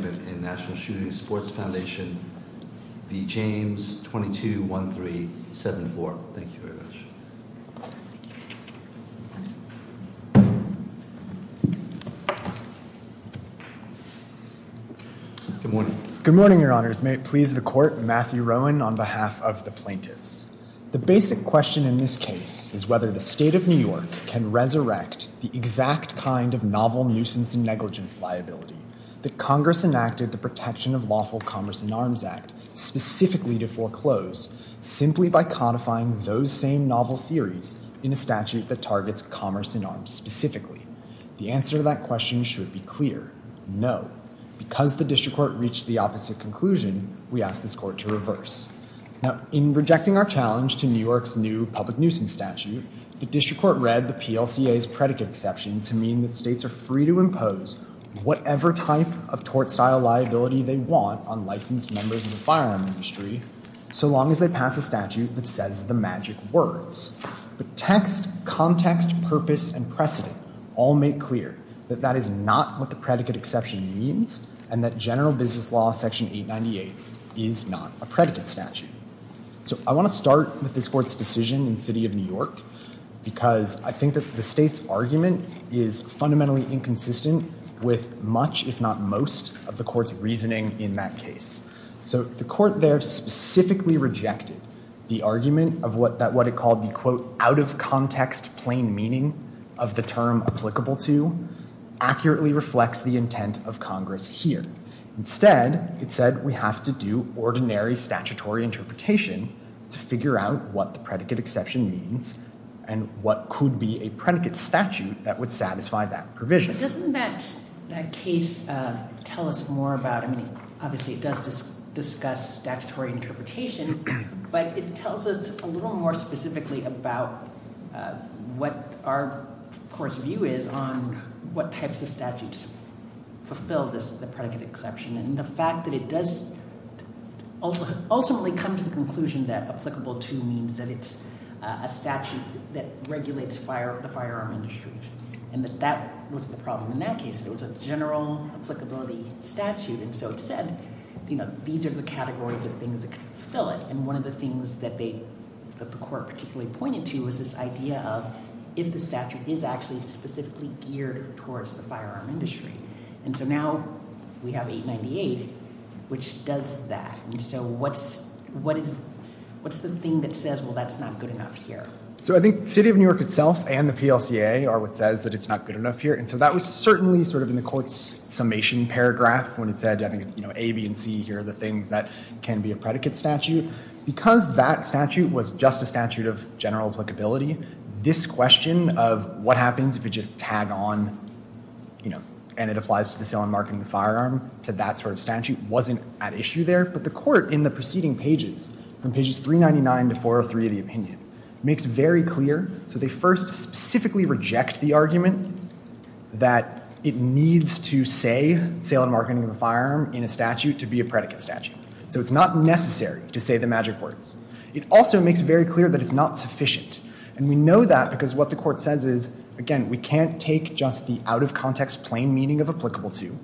Good morning, Your Honors. May it please the Court, Matthew Rowan on behalf of the plaintiffs. The basic question in this case is whether the State of New York can resurrect the exact kind of novel nuisance and negligence liability that Congress enacted the Protection of Lawful Commerce in Arms Act specifically to foreclose simply by codifying those same novel theories in a statute that targets commerce in arms specifically. The answer to that question should be clear, no. Because the District Court reached the opposite conclusion, we ask this Court to reverse. Now, in rejecting our challenge to New York's new public nuisance statute, the District Court read the PLCA's predicate exception to mean that states are free to impose whatever type of tort-style liability they want on licensed members of the firearm industry, so long as they pass a statute that says the magic words. The text, context, purpose, and precedent all make clear that that is not what the predicate exception means and that general business law section 898 is not a predicate statute. So I want to start with this Court's decision in the City of New York because I think that the State's argument is fundamentally inconsistent with much, if not most, of the Court's reasoning in that case. So the Court there specifically rejected the argument of what it called the quote, out of context, plain meaning of the term applicable to accurately reflects the figure out what the predicate exception means and what could be a predicate statute that would satisfy that provision. Doesn't that case tell us more about, I mean, obviously it does discuss statutory interpretation, but it tells us a little more specifically about what our Court's view is on what types of statutes fulfill the predicate exception and the fact that it does ultimately come to the conclusion that applicable to means that it's a statute that regulates the firearm industry. And that was the problem in that case. It was a general applicability statute, and so it said, you know, these are the categories that fill it. And one of the things that the Court particularly pointed to was this idea of if the statute is actually specifically geared towards the firearm industry. And so now we have 898, which says that. And so what's the thing that says, well, that's not good enough here? So I think City of New York itself and the PLCA are what says that it's not good enough here. And so that was certainly sort of in the Court's summation paragraph when it said, you know, A, B, and C are the things that can be a predicate statute. Because that statute was just a statute of general applicability, this question of what happens if you just tag on, you know, and it applies to the sale and marketing of the firearm to that sort of statute wasn't at issue there. But the Court in the preceding pages, from pages 399 to 403 of the opinion, makes very clear. So they first specifically reject the argument that it needs to say sale and marketing of a firearm in a statute to be a predicate statute. So it's not necessary to say the magic words. It also makes very clear that is not sufficient. And we know that because what the Court says is, again, we can't take just the out-of-context plain meaning of applicable to.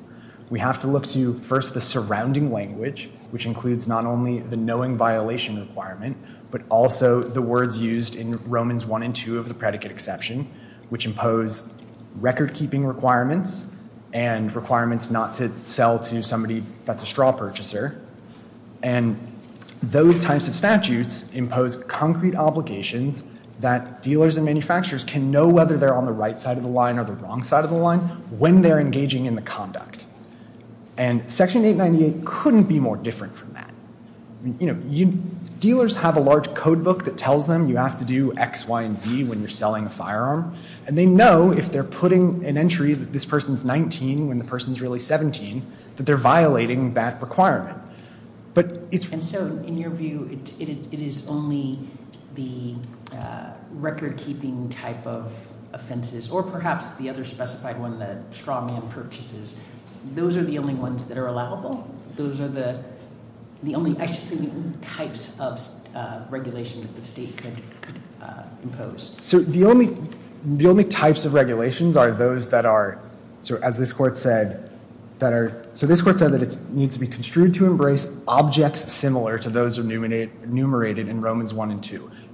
We have to look to, first, the surrounding language, which includes not only the knowing violation requirement, but also the words used in Romans 1 and 2 of the predicate exception, which impose recordkeeping requirements and requirements not to sell to somebody that's a straw purchaser. And those types of statutes impose concrete obligations that dealers and manufacturers can know whether they're on the right side of the line or the wrong side of the line when they're engaging in the conduct. And Section 898 couldn't be more different from that. You know, dealers have a large code book that tells them you have to do X, Y, and Z when you're selling a firearm. And they know if they're putting an entry that this person's 19 when the person's really the recordkeeping type of offenses, or perhaps the other specified one, the straw man purchases. Those are the only ones that are allowable. Those are the only extreme types of regulations that the state could impose. So the only types of regulations are those that are, as this Court said, that are, so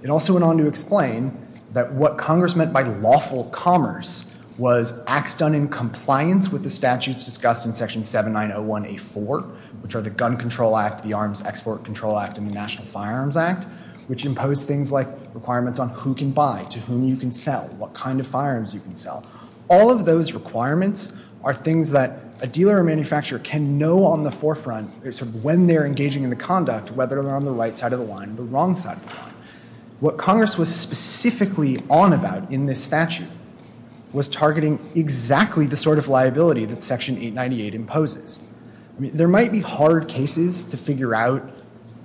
It also went on to explain that what Congress meant by lawful commerce was acts done in compliance with the statutes discussed in Section 7901A4, which are the Gun Control Act, the Arms Export Control Act, and the National Firearms Act, which impose things like requirements on who can buy to whom you can sell, what kind of firearms you can sell. All of those requirements are things that a dealer or manufacturer can know on the forefront when they're engaging in a conduct, whether they're on the right side of the line or the wrong side of the line. What Congress was specifically on about in this statute was targeting exactly the sort of liability that Section 898 imposes. There might be hard cases to figure out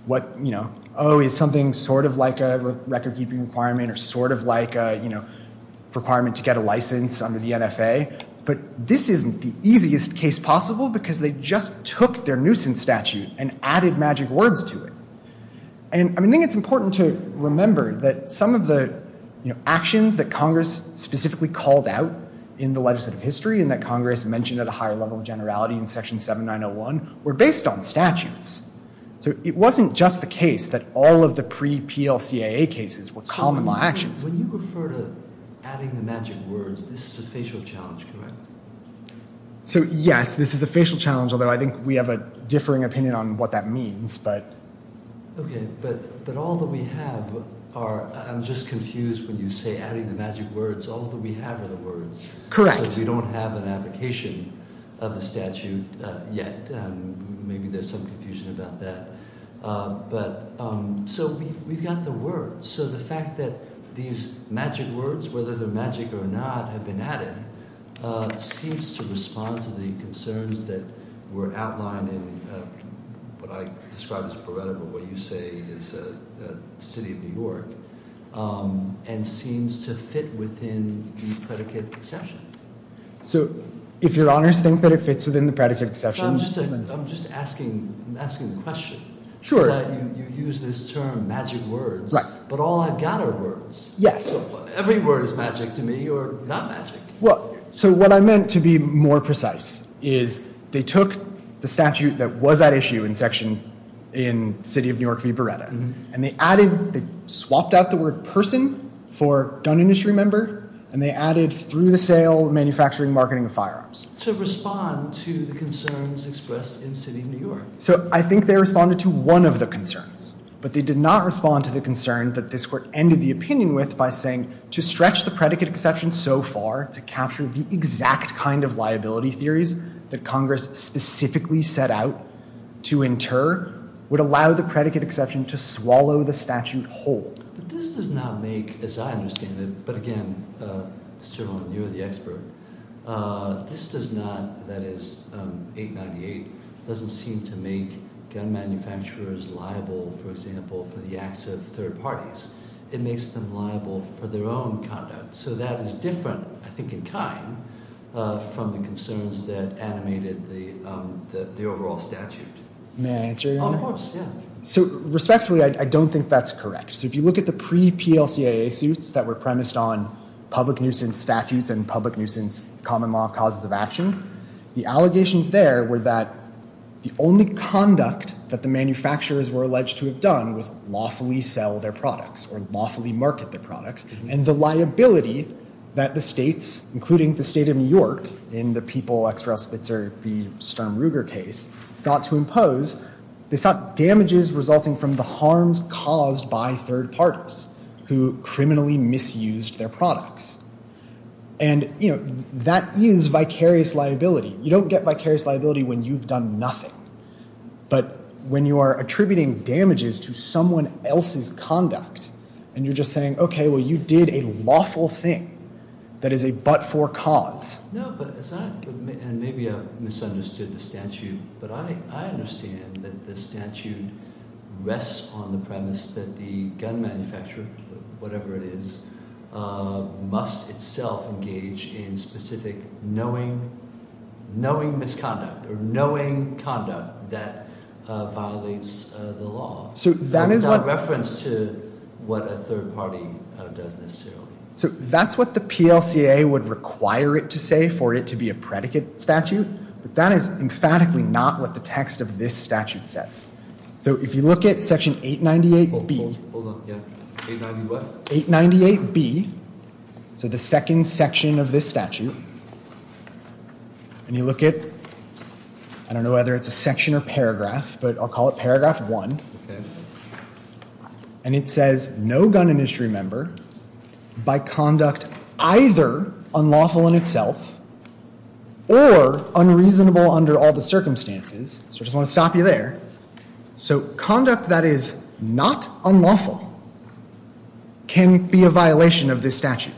what, you know, oh, it's something sort of like a recordkeeping requirement or sort of like a, you know, requirement to get a license under the NFA. But this isn't the easiest case possible because they just took their nuisance statute and added magic words to it. And I think it's important to remember that some of the, you know, actions that Congress specifically called out in the legislative history and that Congress mentioned at a higher level of generality in Section 7901 were based on statutes. So it wasn't just the case that all of the pre-PLCAA cases were common law actions. When you refer to adding the magic words, this is a facial challenge, correct? So, yes, this is a facial challenge, although I think we have a differing opinion on what that means, but... Okay, but all that we have are, I'm just confused when you say adding the magic words, all that we have are the words. Correct. Because we don't have an application of the statute yet. Maybe there's some confusion about that. But, so we've got the words. So the fact that these magic words, whether they're magic or not, have been added, seems to respond to the concerns that were outlined in what I describe as what you say is the city of New York, and seems to fit within the predicate concession. So, if you're honest, you think that it fits within the predicate concession? I'm just asking the question. Sure. You said you used this term, magic words, but all I've got are words. Yes. Every word is magic to me, or not magic. Well, so what I meant, to be more precise, is they took the statute that was at issue in section, in city of New York v. Beretta, and they added, they swapped out the word person for gun industry member, and they added through the sale, manufacturing, marketing of firearms. To respond to the concerns expressed in city of New York. So, I think they responded to one of the concerns, but they did not respond to the concern that this court ended the opinion with by saying, to stretch the predicate exception so far, to capture the exact kind of liability theories that Congress specifically set out to inter, would allow the predicate exception to swallow the statute whole. This does not make, as I understand it, but again, certainly you're the expert, this does not, that is, 898, doesn't seem to make gun manufacturers liable, for example, for the acts of third parties. It makes them liable for their own conduct. So that is different, I think in time, from the concerns that animated the overall statute. May I answer your question? Of course, yeah. Respectfully, I don't think that's correct. If you look at the pre-PLCA issues that were premised on public nuisance statutes and public litigation, the allegations there were that the only conduct that the manufacturers were alleged to have done was lawfully sell their products, or lawfully market their products, and the liability that the states, including the state of New York, in the people, extra spitzer, the Sturm Ruger case, sought to impose, they sought damages resulting from the harms caused by third parties, who criminally misused their products. And, you know, that means vicarious liability. You don't get vicarious liability when you've done nothing. But when you are attributing damages to someone else's conduct, and you're just saying, okay, well, you did a lawful thing that is a but-for cause. No, but is that, and maybe I've misunderstood the statute, but I understand that the statute rests on the premise that the gun manufacturer, whatever it is, must itself engage in specific knowing misconduct, or knowing conduct that violates the law. So that is a reference to what a third party does. So that's what the PLCA would require it to say for it to be a predicate statute. But that is emphatically not what the text of this statute says. So if you look at section 898B, so the second section of this statute, and you look at, I don't know whether it's a section or paragraph, but I'll call it paragraph one, and it says, no gun industry member by conduct either unlawful in itself or unreasonable under all the circumstances. So I just want to stop you there. So conduct that is not unlawful can be a violation of this statute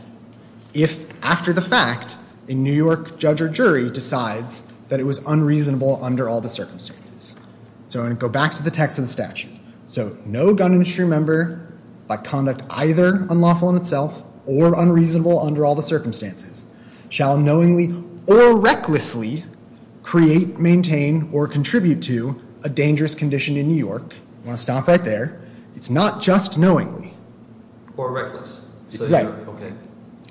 if, after the fact, a New York judge or jury decides that it was unreasonable under all the circumstances. So I'm going to go back to the text of the statute. So no gun industry member by conduct either unlawful in itself or unreasonable under all the circumstances shall knowingly or recklessly create, maintain, or contribute to a dangerous condition in New York. I'm going to stop right there. It's not just knowingly. Or recklessly. Exactly. OK.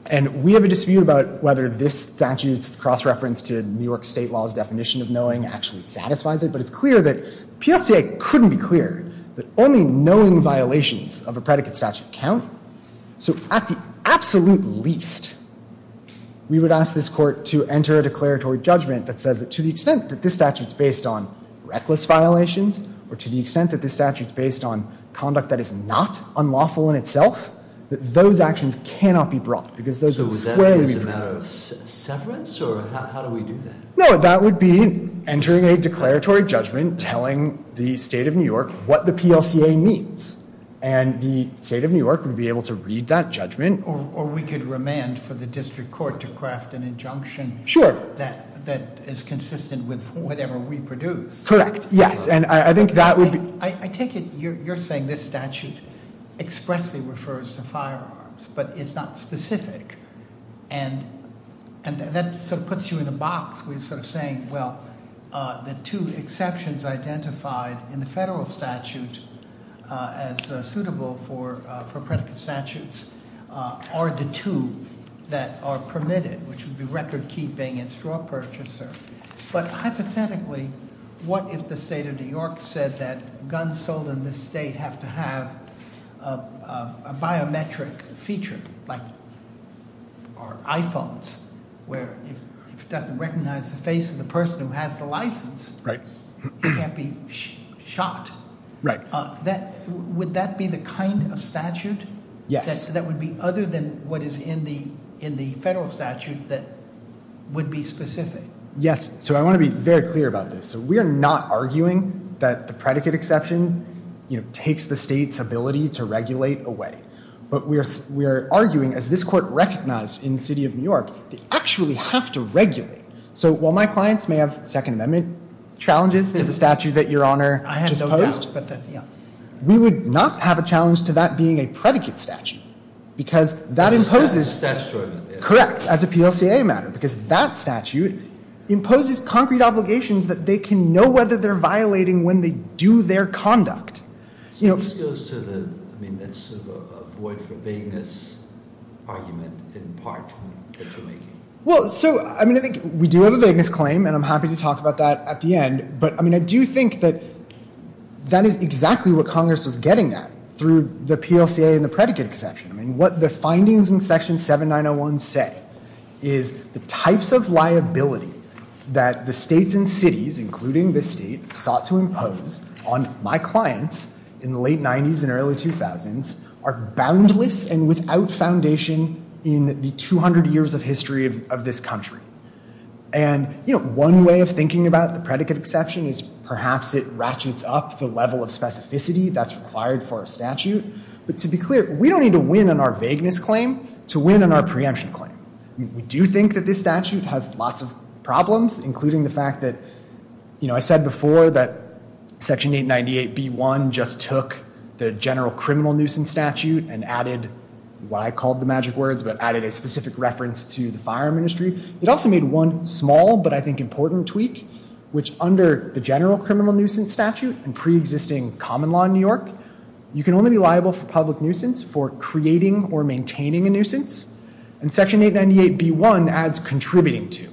And we have a dispute about whether this statute's cross-reference to New York state law's definition of knowing actually satisfies it. But it's clear that PFCA couldn't be clearer that only knowing violations of a predicate statute count. So at the absolute least, we would ask this court to enter a declaratory judgment that says that to the extent that this statute's based on reckless violations or to the extent that this statute's based on conduct that is not unlawful in itself, that those actions cannot be brought. So would that be a matter of severance? Or how do we do that? No, that would be entering a declaratory judgment telling the state of New York what the PLCA means. And the state of New York would be able to read that judgment. Or we could remand for the district court to craft an injunction that is consistent with whatever we produce. Correct. Yes. And I think that would be... I take it you're saying this statute expressly refers to firearms, but it's not specific. And that sort of puts you in a box. We're sort of saying, well, the two exceptions identified in the federal statute as suitable for predicate statutes are the two that are permitted, which would be record-keeping and straw purchaser. But hypothetically, what if the state of New York said that guns sold in this state have to have a biometric feature, like our iPhones, where it doesn't recognize the face of the person who has the license. Right. They can't be shot. Right. Would that be the kind of statute that would be other than what is in the federal statute that would be specific? Yes. So I want to be very clear about this. We are not arguing that the predicate exception takes the state's ability to regulate away. But we are arguing, as this court recognized in the city of New York, they actually have to regulate. So while my clients may have Second Amendment challenges to the statute that Your Honor just posed, we would not have a challenge to that being a predicate statute. Because that imposes... That's true. Correct, as a PLCA matter. Because that statute imposes concrete obligations that they can know whether they're violating when they do their conduct. So this goes to the, I mean, that's sort of a voice for vagueness argument in part. Well, so, I mean, I think we do have a vagueness claim, and I'm happy to talk about that at the end. But, I mean, I do think that that is exactly what Congress was getting at through the PLCA and the predicate exception. I mean, what the findings in Section 7901 say is the types of liability that the states and cities, including this state, sought to impose on my clients in the late 90s and early 2000s are boundless and without foundation in the 200 years of history of this country. And, you know, one way of thinking about the predicate exception is perhaps it ratchets up the level of specificity that's required for a statute. But to be clear, we don't need to win on our vagueness claim to win on our preemption claim. We do think that this statute has lots of problems, including the fact that, you know, I said before that Section 898b-1 just took the general criminal nuisance statute and added what I called the magic words, but added a specific reference to the fire ministry. It also made one small, but I think important, tweak, which under the general criminal nuisance statute and preexisting common law in New York, you can only be liable for public nuisance for creating or maintaining a nuisance. And Section 898b-1 adds contributing to,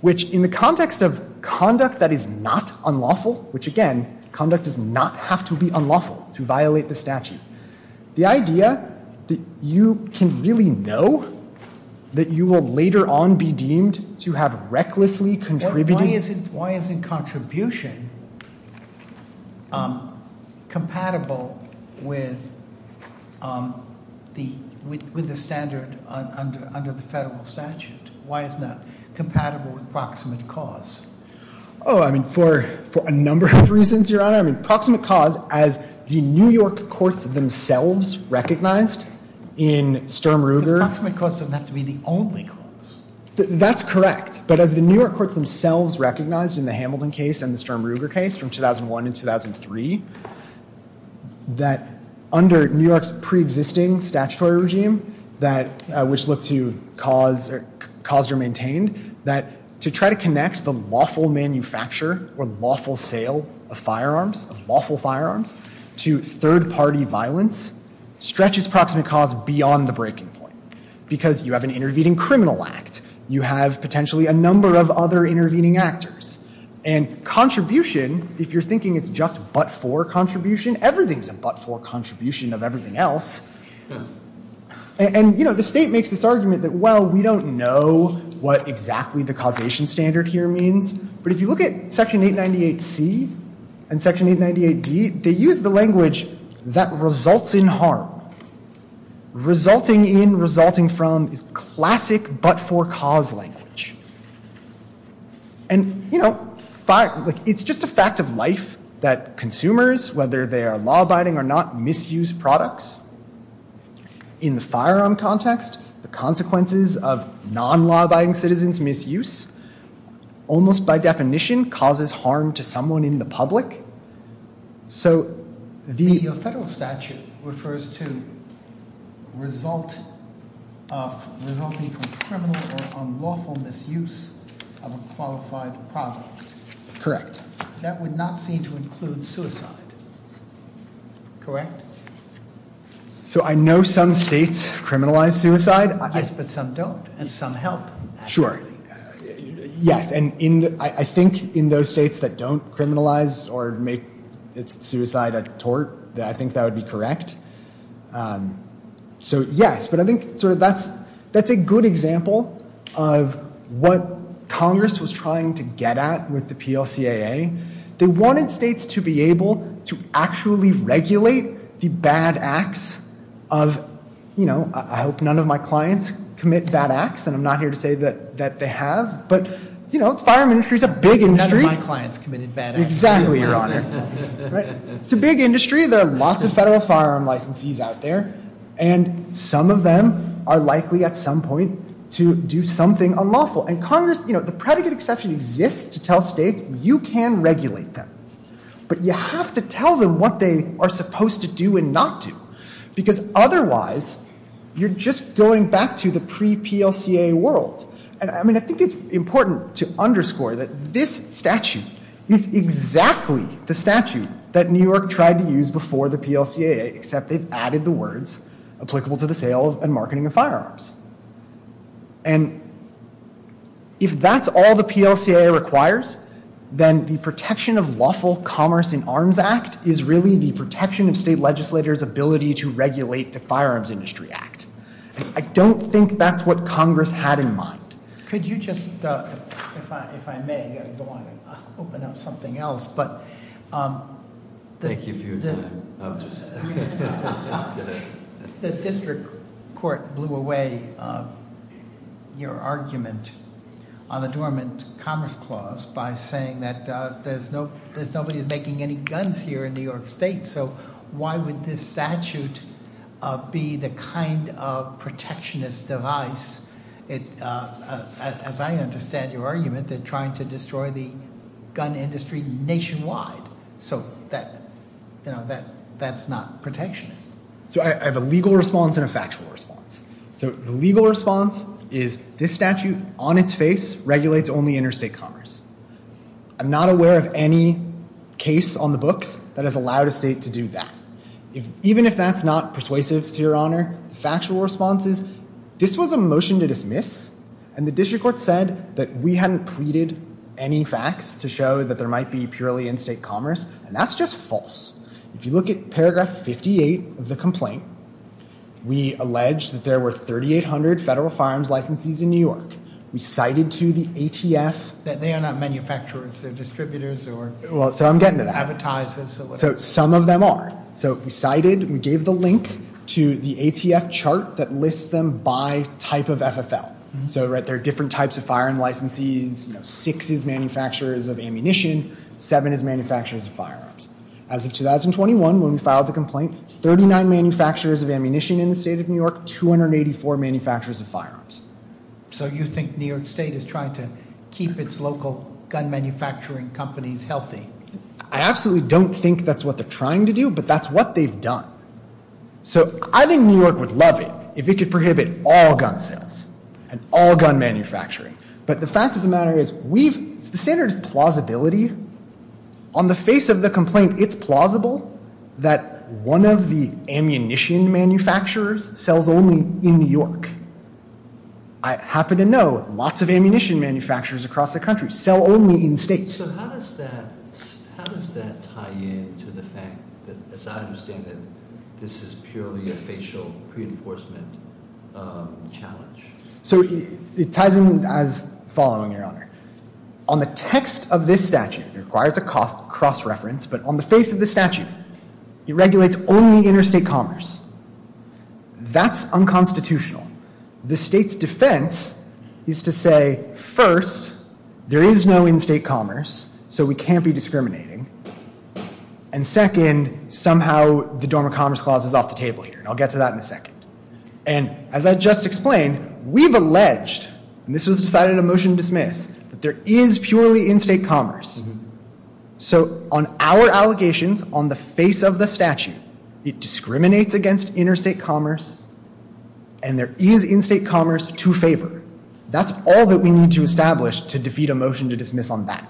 which in the context of conduct that is not unlawful, which, again, conduct does not have to be unlawful to violate the statute, the idea that you can really know that you will later on be deemed to have recklessly contributed. Why isn't contribution compatible with the standard under the federal statute? Why is it not compatible with proximate cause? Oh, I mean, for a number of reasons, Your Honor. I mean, proximate cause, as the New York courts themselves recognized in Sturm and Ruger. Proximate cause doesn't have to be the only cause. That's correct. But as the New York courts themselves recognized in the Hamilton case and the Sturm and Ruger case from 2001 and 2003, that under New York's preexisting statutory regime, which looked to cause or maintain, that to try to connect the lawful manufacture or lawful sale of firearms, of lawful firearms, to third-party violence, stretches proximate cause beyond the breaking point because you have an intervening criminal act. You have potentially a number of other intervening actors. And contribution, if you're thinking it's just but-for contribution, everything's a but-for contribution of everything else. And, you know, the state makes this argument that, well, we don't know what exactly the causation standard here means. But if you look at Section 898C and Section 898D, they use the language that results in harm. Resulting in, resulting from, classic but-for-cause language. And, you know, it's just a fact of life that consumers, whether they are law-abiding or not, misuse products. In the firearm context, the consequences of non-law-abiding citizens' misuse almost by definition causes harm to someone in the public. So the federal statute refers to result, resulting from criminal or unlawful misuse of a qualified product. Correct. That would not seem to include suicide. Correct? So I know some states criminalize suicide. Yes, but some don't, and some help. Sure. Yes, and I think in those states that don't criminalize or make suicide a tort, I think that would be correct. So, yes, but I think that's a good example of what Congress was trying to get at with the PLCAA. They wanted states to be able to actually regulate the bad acts of, you know, I hope none of my clients commit bad acts, and I'm not here to say that they have, but, you know, the firearm industry is a big industry. None of my clients commit bad acts. Exactly, Your Honor. It's a big industry. There are lots of federal firearm licensees out there, and some of them are likely at some point to do something unlawful. And Congress, you know, the predicate exception exists to tell states you can regulate them, but you have to tell them what they are supposed to do and not do because otherwise you're just going back to the pre-PLCAA world. And, I mean, I think it's important to underscore that this statute is exactly the statute that New York tried to use before the PLCAA, except they've added the words applicable to the sales and marketing of firearms. And if that's all the PLCAA requires, then the Protection of Lawful Commerce in Arms Act is really the Protection of State Legislators' Ability to Regulate the Firearms Industry Act. I don't think that's what Congress had in mind. Could you just, if I may, I don't want to open up something else, but the district court blew away your argument on the Dormant Commerce Clause by saying that there's nobody making any guns here in New York State, so why would this statute be the kind of protectionist device, as I understand your argument, that's trying to destroy the gun industry nationwide? So that's not protectionist. So I have a legal response and a factual response. The legal response is this statute, on its face, regulates only interstate commerce. I'm not aware of any case on the books that has allowed a state to do that. Even if that's not persuasive, to your honor, factual responses, this was a motion to dismiss, and the district court said that we hadn't pleaded any facts to show that there might be purely in-state commerce, and that's just false. If you look at paragraph 58 of the complaint, we allege that there were 3,800 federal firearms licenses in New York. We cited to the ATF... That they are not manufacturers. They're distributors or... Well, so I'm getting to that. Advertisers or... So some of them are. So we cited and gave the link to the ATF chart that lists them by type of FFL. So there are different types of firing licenses. Six is manufacturers of ammunition. Seven is manufacturers of firearms. As of 2021, when we filed the complaint, 39 manufacturers of ammunition in the state of New York, 284 manufacturers of firearms. So you think New York State is trying to keep its local gun manufacturing companies healthy? I absolutely don't think that's what they're trying to do, but that's what they've done. So I think New York would love it if it could prohibit all gun sales and all gun manufacturing. But the fact of the matter is, we've... The standard is plausibility. On the face of the complaint, it's plausible that one of the ammunition manufacturers sells only in New York. I happen to know lots of ammunition manufacturers across the country sell only in states. So how does that... How does that tie in to the fact that, as I understand it, this is purely a facial reinforcement challenge? So it ties in as following, Your Honor. On the text of this statute, it requires a cross-reference, but on the face of the statute, it regulates only interstate commerce. That's unconstitutional. The state's defense is to say, first, there is no in-state commerce, so we can't be discriminating. And second, somehow, the Dormant Commerce Clause is off the table here, and I'll get to that in a second. And as I just explained, we've alleged, and this was decided in a motion to dismiss, that there is purely in-state commerce. So on our allegations, on the face of the statute, it discriminates against interstate commerce, and there is in-state commerce to favor. That's all that we need to establish to defeat a motion to dismiss on that.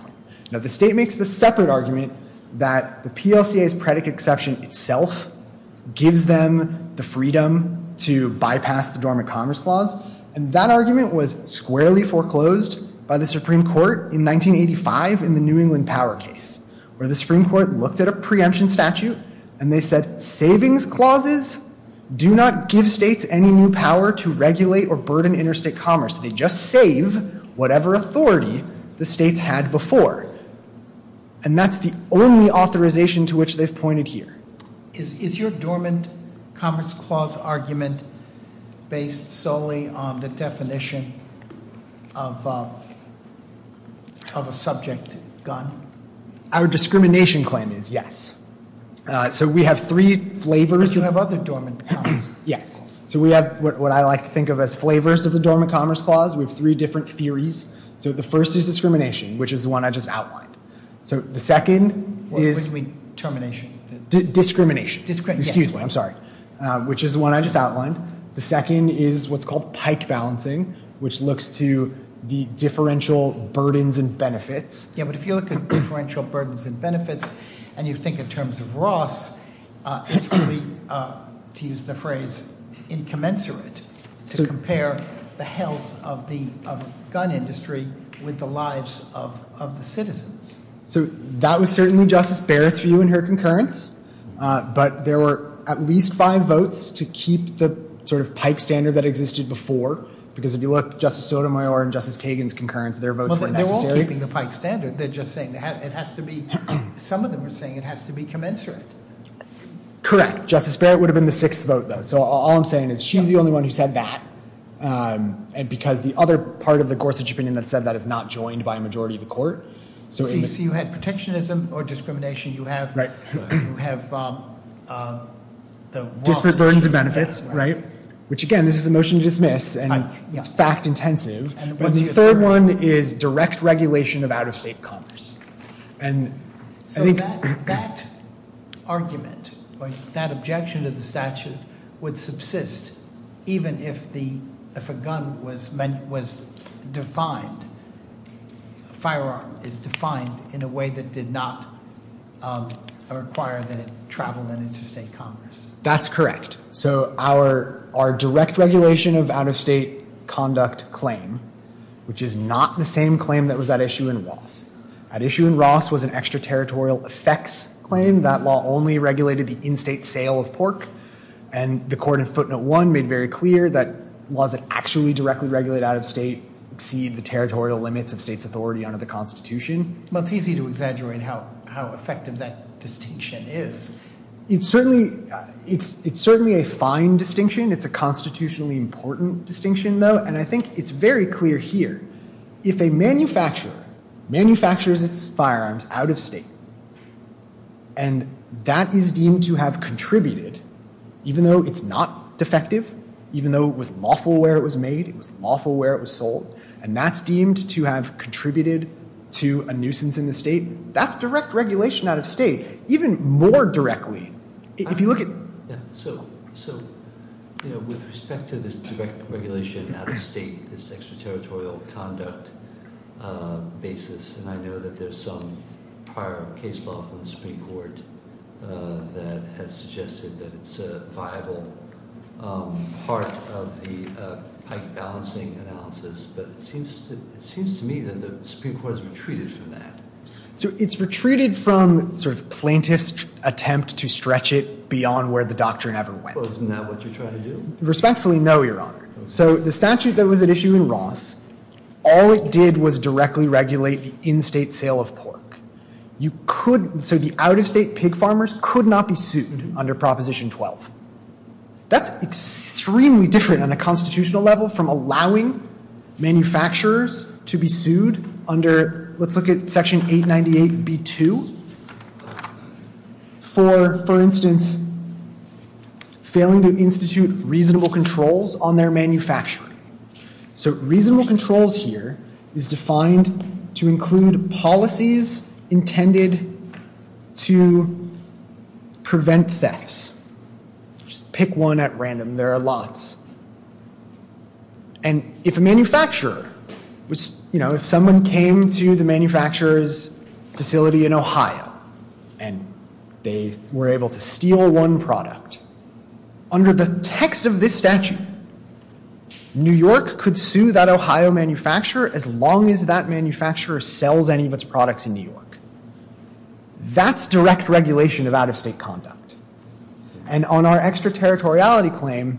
Now, the state makes the separate argument that the PLCA's predicate exception itself gives them the freedom to bypass the Dormant Commerce Clause, and that argument was squarely foreclosed by the Supreme Court in 1985 in the New England Power case, where the Supreme Court looked at a preemption statute, and they said, savings clauses do not give states any new power to regulate or burden interstate commerce. They just save whatever authority the states had before. And that's the only authorization to which they've pointed here. Is your Dormant Commerce Clause argument based solely on the definition of a subject gun? Our discrimination claim is, yes. So we have three flavors. You can have other Dormant Commerce Clause. Yes. So we have what I like to think of as flavors of the Dormant Commerce Clause with three different theories. So the first is discrimination, which is the one I just outlined. So the second is... What do you mean termination? Discrimination. Discrimination, yes. Excuse me, I'm sorry, which is the one I just outlined. The second is what's called pike balancing, which looks to the differential burdens and benefits. Yeah, but if you look at differential burdens and benefits and you think in terms of Ross, it's really, to use the phrase, incommensurate to compare the health of the gun industry with the lives of the citizens. So that was certainly Justice Barrett's view in her concurrence, but there were at least five votes to keep the sort of pike standard that existed before, because if you look at Justice Sotomayor and Justice Kagan's concurrence, their votes were necessary. They're all keeping the pike standard. They're just saying it has to be some of them are saying it has to be commensurate. Correct. Justice Barrett would have been the sixth vote, though. So all I'm saying is she's the only one who said that. And because the other part of the Gorsuch opinion that said that is not joined by a majority of the court. So you had protectionism or discrimination. You have... Right. You have the... Different burdens and benefits, right? Which again, this is a motion to dismiss and fact intensive. And the third one is direct regulation of out-of-state commerce. So that argument or that objection to the statute would subsist even if a gun was defined, a firearm is defined in a way that did not require that it travel into state commerce. That's correct. So our direct regulation of out-of-state conduct claim, which is not the same claim that was at issue in Walsh. At issue in Walsh was an extraterritorial effects claim that law only regulated the in-state sale of pork. And the court in footnote one made very clear that laws that actually directly regulate out-of-state exceed the territorial limits of state's authority under the constitution. Well, it's easy to exaggerate how effective that distinction is. It's certainly a fine distinction. It's a constitutionally important distinction, though. And I think it's very clear here. If a manufacturer manufactures its firearms out-of-state and that is deemed to have contributed, even though it's not defective, even though it was lawful where it was made, it was lawful where it was sold, and that's deemed to have contributed to a nuisance in the state, that's direct regulation out-of-state. Even more directly, if you look at... So, you know, with respect to this direct regulation out-of-state, this extraterritorial conduct basis, and I know that there's some prior case law from the Supreme Court that has suggested that it's a viable part of the pike balancing analysis, but it seems to me that the Supreme Court has retreated from that. So, it's retreated from plaintiff's attempt to stretch it beyond where the doctrine ever went. Well, isn't that what you're trying to do? Respectfully, no, Your Honor. So, the statute that was at issue in Ross, all it did was directly regulate the in-state sale of pork. You could... So, the out-of-state pig farmers could not be sued under Proposition 12. That's extremely different on a constitutional level from allowing manufacturers to be sued under, let's look at Section 898b-2. For instance, failing to institute reasonable controls on their manufacturing. So, reasonable controls here is defined to include policies intended to prevent thefts. Just pick one at random. There are lots. And if a manufacturer, you know, if someone came to the manufacturer's facility in Ohio and they were able to steal one product, under the text of this statute, New York could sue that Ohio manufacturer as long as that manufacturer sells any of its products in New York. That's direct regulation of out-of-state conduct. And on our extraterritoriality claim,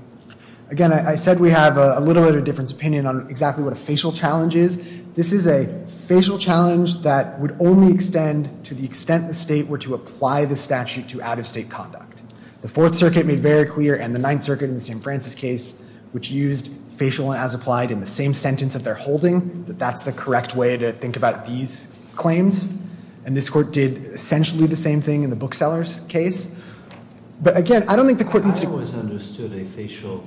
again, I said we have a little bit of a different opinion on exactly what a facial challenge is. This is a facial challenge that would only extend to the extent the state were to apply the statute to out-of-state conduct. The Fourth Circuit made very clear, and the Ninth Circuit in the St. Francis case, which used facial as applied in the same sentence that they're holding, that that's the correct way to think about these claims. And this court did essentially the same thing in the bookseller's case. But again, I don't think the court would see... I think the court understood a facial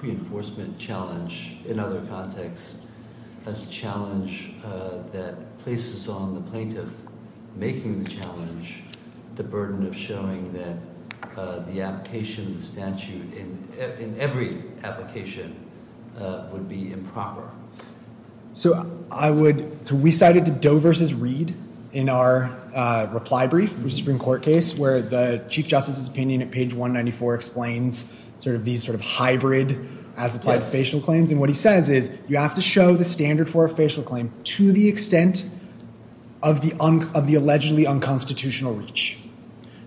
reinforcement challenge in other contexts as a challenge that places on the plaintiff making the challenge the burden of showing that the application of the statute in every application would be improper. So I would... So we cited the Doe v. Reed in our reply brief in the Supreme Court case, where the Chief Justice's opinion at page 194 explains sort of these sort of hybrid as-applied facial claims. And what he says is, you have to show the standard for a facial claim to the extent of the allegedly unconstitutional reach.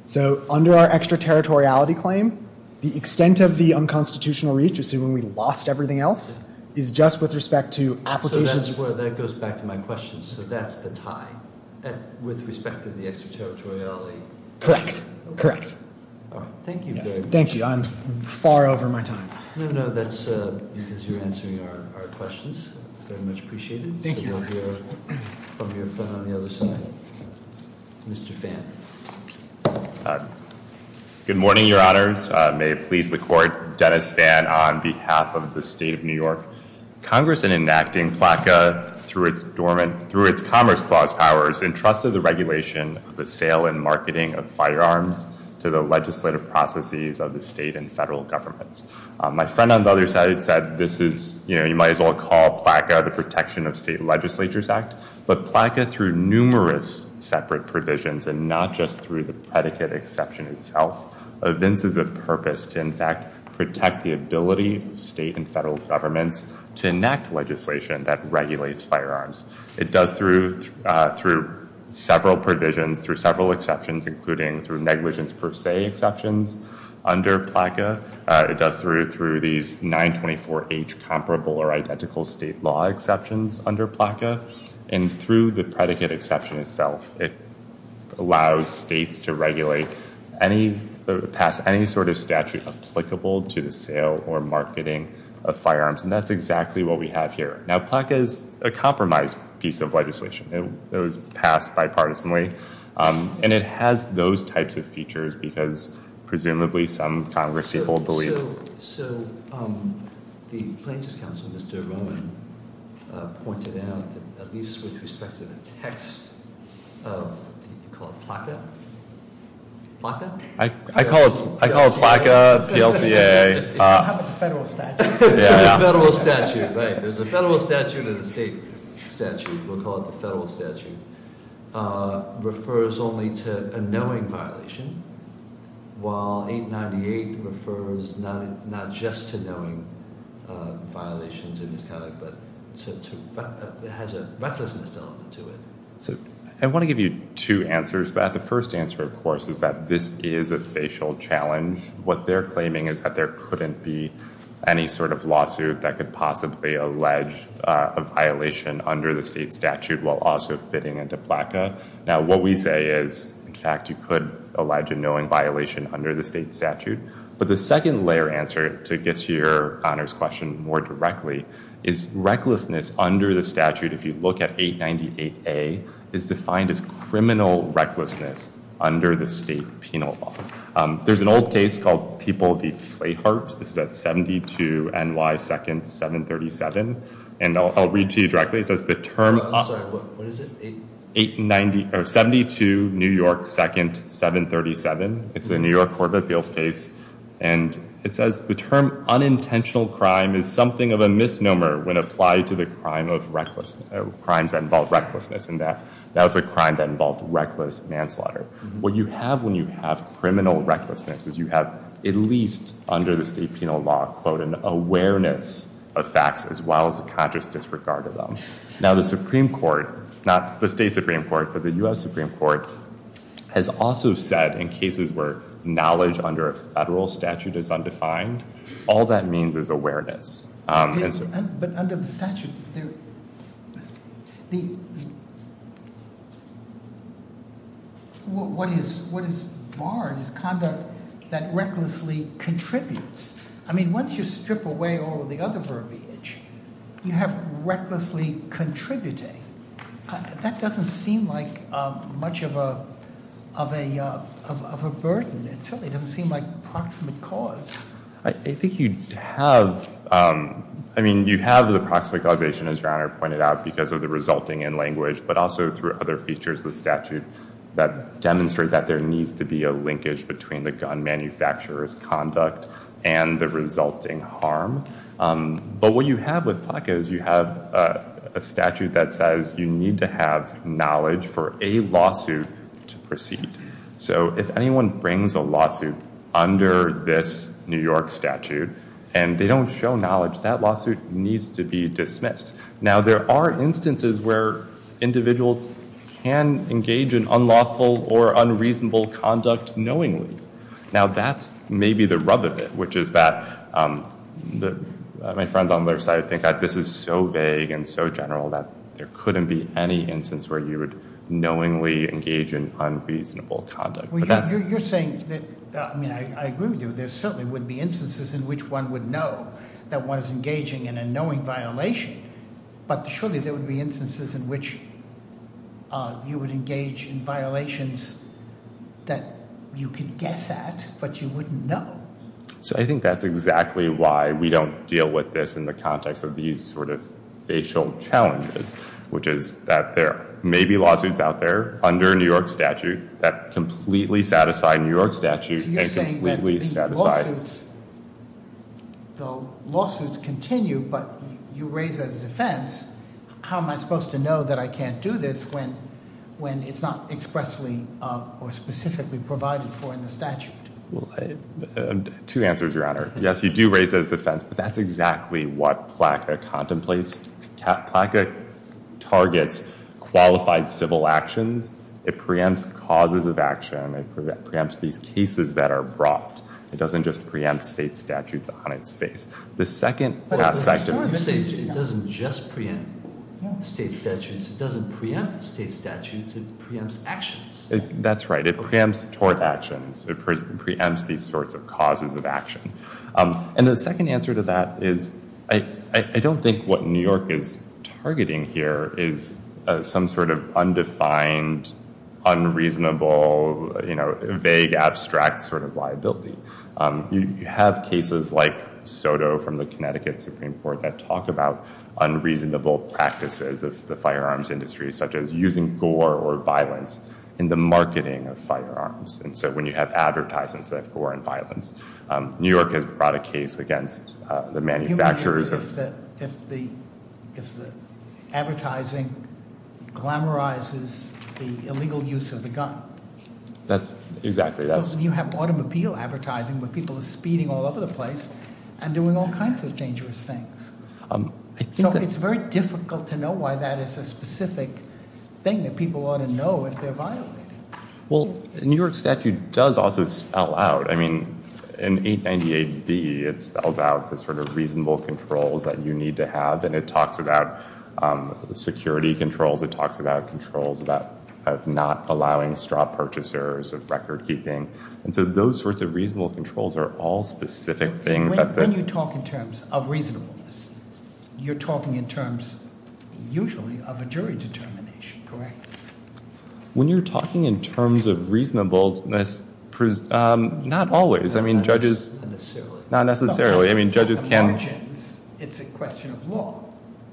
So under our extraterritoriality claim, the extent of the unconstitutional reach, assuming we lost everything else, is just with respect to applications... So that goes back to my question. So that's the tie with respect to the extraterritoriality. Correct. Correct. Thank you, David. Thank you. I'm far over my time. No, no, that's because you're answering our questions. Very much appreciated. Thank you. We'll hear from your friend on the other side. Mr. Fan. Good morning, Your Honors. May it please the Court, Dennis Fan on behalf of the State of New York. Congress, in enacting PLACA through its Commerce Clause powers, entrusted the regulation, the sale, and marketing of firearms to the legislative processes of the state and federal governments. My friend on the other side said, this is, you know, you might as well call PLACA the Protection of State Legislatures Act. But PLACA, through numerous separate provisions and not just through the predicate exception itself, evinces a purpose to, in fact, protect the ability of state and federal governments to enact legislation that regulates firearms. It does through several provisions, through several exceptions, including through negligence per se exceptions under PLACA. It does through these 924H comparable or identical state law exceptions under PLACA. And through the predicate exception itself, it allows states to regulate any sort of statute applicable to the sale or marketing of firearms. And that's exactly what we have here. Now, PLACA is a compromised piece of legislation. It was passed bipartisanly. And it has those types of features because presumably some Congress people believe it. So the plaintiff's counsel, Mr. Roman, pointed out that at least with respect to the text, called PLACA. PLACA? I call it PLACA, PLCA. How about the federal statute? Federal statute, right. There's a federal statute and a state statute. We'll call it the federal statute. Refers only to a knowing violation, while 898 refers not just to knowing violations. It has a recklessness element to it. I want to give you two answers to that. The first answer, of course, is that this is a facial challenge. What they're claiming is that there couldn't be any sort of lawsuit that could possibly allege a violation under the state statute while also fitting into PLACA. Now, what we say is, in fact, you could allege a knowing violation under the state statute. But the second-layer answer, to get to your honors question more directly, is recklessness under the statute, if you look at 898A, is defined as criminal recklessness under the state penal law. There's an old case called People v. Clayhurst. This is at 72 NY 2nd, 737. And I'll read to you directly. It says the term... I'm sorry, what is it? 890, or 72 NY 2nd, 737. It's a New York Court of Appeals case. And it says the term unintentional crime is something of a misnomer when applied to the crime of recklessness, crimes that involve recklessness, and that's a crime that involves reckless manslaughter. What you have when you have criminal recklessness is you have, at least under the state penal law, an awareness of facts as well as a conscious disregard of them. Now, the Supreme Court, not the state Supreme Court, but the U.S. Supreme Court, has also said in cases where knowledge under a federal statute is undefined, all that means is awareness. But under the statute, what is barred is conduct that recklessly contributes. I mean, once you strip away all of the other verbiage, you have recklessly contributing. That doesn't seem like much of a burden. It doesn't seem like proximate cause. I think you have... I mean, you have the proximate causation, as your Honor pointed out, because of the resulting in-language, but also through other features of the statute that demonstrate that there needs to be a linkage between the gun manufacturer's conduct and the resulting harm. But what you have with PLCA is you have a statute that says you need to have knowledge for a lawsuit to proceed. So if anyone brings a lawsuit under this New York statute and they don't show knowledge, that lawsuit needs to be dismissed. Now, there are instances where individuals can engage in unlawful or unreasonable conduct knowingly. Now, that's maybe the rub of it, which is that... My friend on the other side, I think that this is so vague and so general that there couldn't be any instance where you would knowingly engage in unreasonable conduct. You're saying that... I mean, I agree with you. There certainly would be instances in which one would know that one is engaging in a knowing violation, but surely there would be instances in which you would engage in violations that you could guess at, but you wouldn't know. So I think that's exactly why we don't deal with this in the context of these sort of facial challenges, which is that there may be lawsuits out there under a New York statute that completely satisfy New York statutes and completely satisfy... You're saying that lawsuits... Though lawsuits continue, but you raise a defense, how am I supposed to know that I can't do this when it's not expressly or specifically provided for in the statute? Two answers, Your Honor. Yes, you do raise a defense, but that's exactly what PLACA contemplates. PLACA targets qualified civil actions. It preempts causes of action. It preempts these cases that are brought. It doesn't just preempt state statutes on its face. The second... It doesn't just preempt state statutes. It doesn't preempt state statutes. It preempts actions. That's right. It preempts tort actions. It preempts these sorts of causes of action. And the second answer to that is I don't think what New York is targeting here is some sort of undefined, unreasonable, vague, abstract sort of liability. You have cases like Soto from the Connecticut Supreme Court that talk about unreasonable practices of the firearms industry, such as using gore or violence in the marketing of firearms. And so when you have advertisements that gore and violence... New York has brought a case against the manufacturers of... If the advertising glamorizes the illegal use of the gun... That's... Exactly. You have automobile advertising where people are speeding all over the place and doing all kinds of dangerous things. You know, it's very difficult to know why that is a specific thing that people ought to know if they're violating it. Well, the New York statute does also spell out... I mean, in 890 AD, it spells out the sort of reasonable controls that you need to have, and it talks about security controls. It talks about controls about not allowing straw purchasers of record-keeping. And so those sorts of reasonable controls are all specific things that... But when you talk in terms of reasonableness, you're talking in terms, usually, of a jury determination, correct? When you're talking in terms of reasonableness, not always. I mean, judges... Not necessarily. Not necessarily. I mean, judges can... It's a question of law.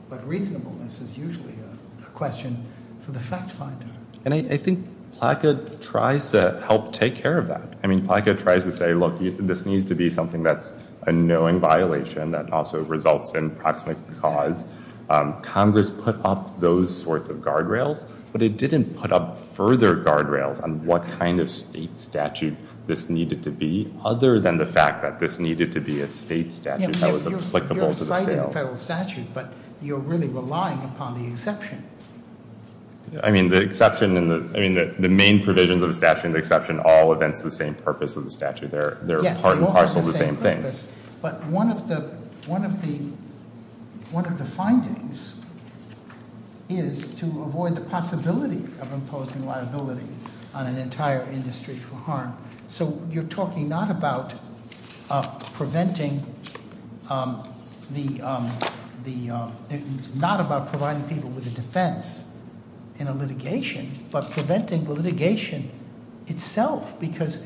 But reasonableness is usually a question for the fact-finder. And I think PLACA tries to help take care of that. I mean, PLACA tries to say, look, this needs to be something that's a knowing violation that also results in proximate cause. Congress put up those sorts of guardrails, but it didn't put up further guardrails on what kind of state statute this needed to be, other than the fact that this needed to be a state statute that was applicable to the field. You're citing a federal statute, but you're really relying upon the exception. I mean, the exception and the... I mean, the main provisions of the statute and the exception all event to the same purpose as the statute. They're part and parcel to the same thing. But one of the findings is to avoid the possibility of imposing liability on an entire industry for harm. So you're talking not about preventing the... Not about providing people with a defense in a litigation, but preventing the litigation itself, because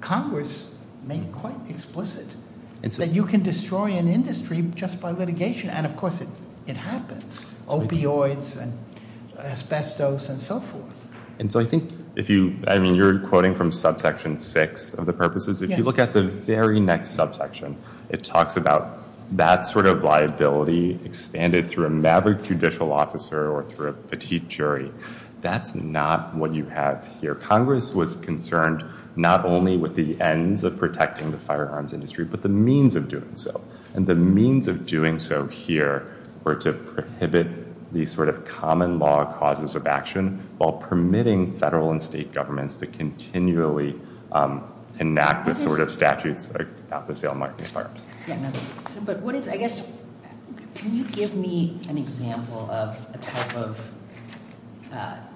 Congress made it quite explicit that you can destroy an industry just by litigation. And of course, it happens. Opioids and asbestos and so forth. And so I think if you... I mean, you're quoting from subsection six of the purposes. If you look at the very next subsection, it talks about that sort of liability expanded through a maverick judicial officer or through a petite jury. That's not what you have here. Congress was concerned not only with the ends of protecting the firearms industry, but the means of doing so. And the means of doing so here were to prohibit these sort of common law causes of action while permitting federal and state governments to continually enact the sort of statutes about the sale of market firearms. Yeah, but what is... I guess, can you give me an example of a type of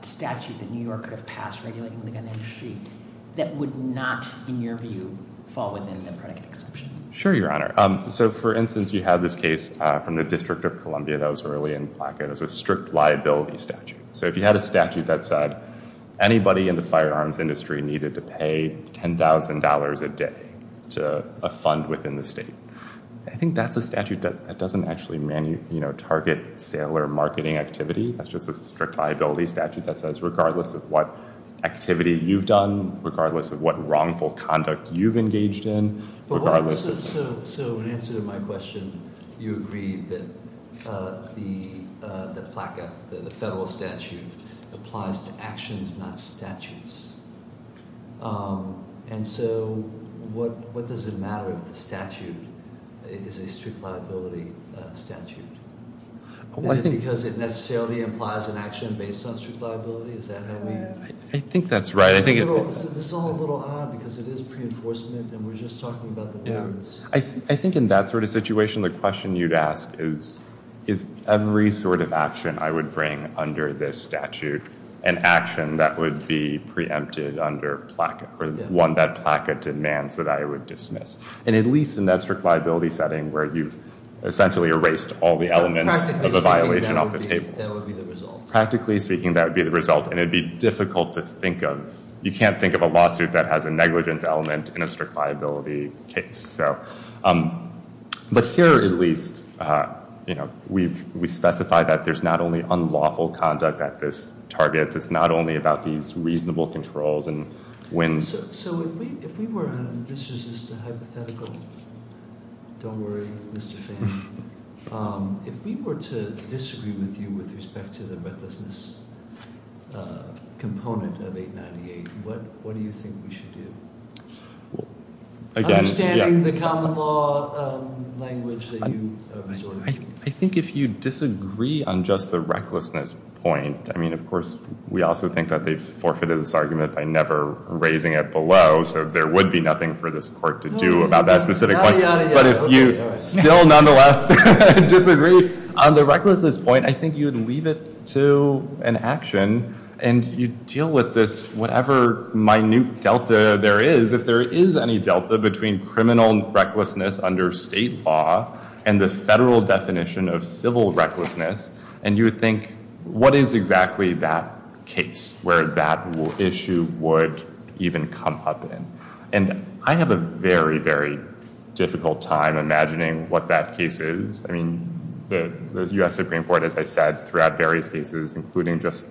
statute that New Yorker passed regulating the gun industry that would not, in your view, fall within the credit exemption? Sure, Your Honor. So, for instance, you have this case from the District of Columbia that was early in the blackout. It was a strict liability statute. So if you had a statute that said anybody in the firearms industry needed to pay $10,000 a day to a fund within the state, I think that's a statute that doesn't actually target sale or marketing activity. That's just a strict liability statute that says regardless of what activity you've done, regardless of what wrongful conduct you've engaged in, regardless of... So, in answer to my question, you agree that the blackout, the federal statute, applies to actions, not statutes. And so what does it matter if the statute is a strict liability statute? Is it because it necessarily implies an action based on strict liability? Is that how you... I think that's right. This is all a little odd because it is pre-enforcement and we're just talking about the... I think in that sort of situation, the question you'd ask is is every sort of action I would bring under this statute an action that would be preempted under one that pocketed man that I would dismiss? And at least in that strict liability setting where you've essentially erased all the elements of a violation off the table. Practically speaking, that would be the result. Practically speaking, that would be the result and it'd be difficult to think of. You can't think of a lawsuit that has a negligence element in a strict liability case. But here, at least, we specify that there's not only unlawful conduct at this target. It's not only about these reasonable controls and when... So, if we were... This is just a hypothetical. Don't worry, Mr. Fisher. If we were to disagree with you with respect to the recklessness component of 898, what do you think we should do? Understanding the common law language that you resort to. I think if you disagree on just the recklessness point, I mean, of course, we also think that they've forfeited this argument by never raising it below, so there would be nothing for this court to do about that specific point. But if you still, nonetheless, disagree on the recklessness point, I think you'd leave it to an action and you'd deal with this, whatever minute delta there is, if there is any delta between criminal recklessness under state law and the federal definition of civil recklessness, and you would think, what is exactly that case where that issue would even come up in? And I have a very, very difficult time imagining what that case is. I mean, the U.S. Supreme Court, as I said, throughout various cases, including just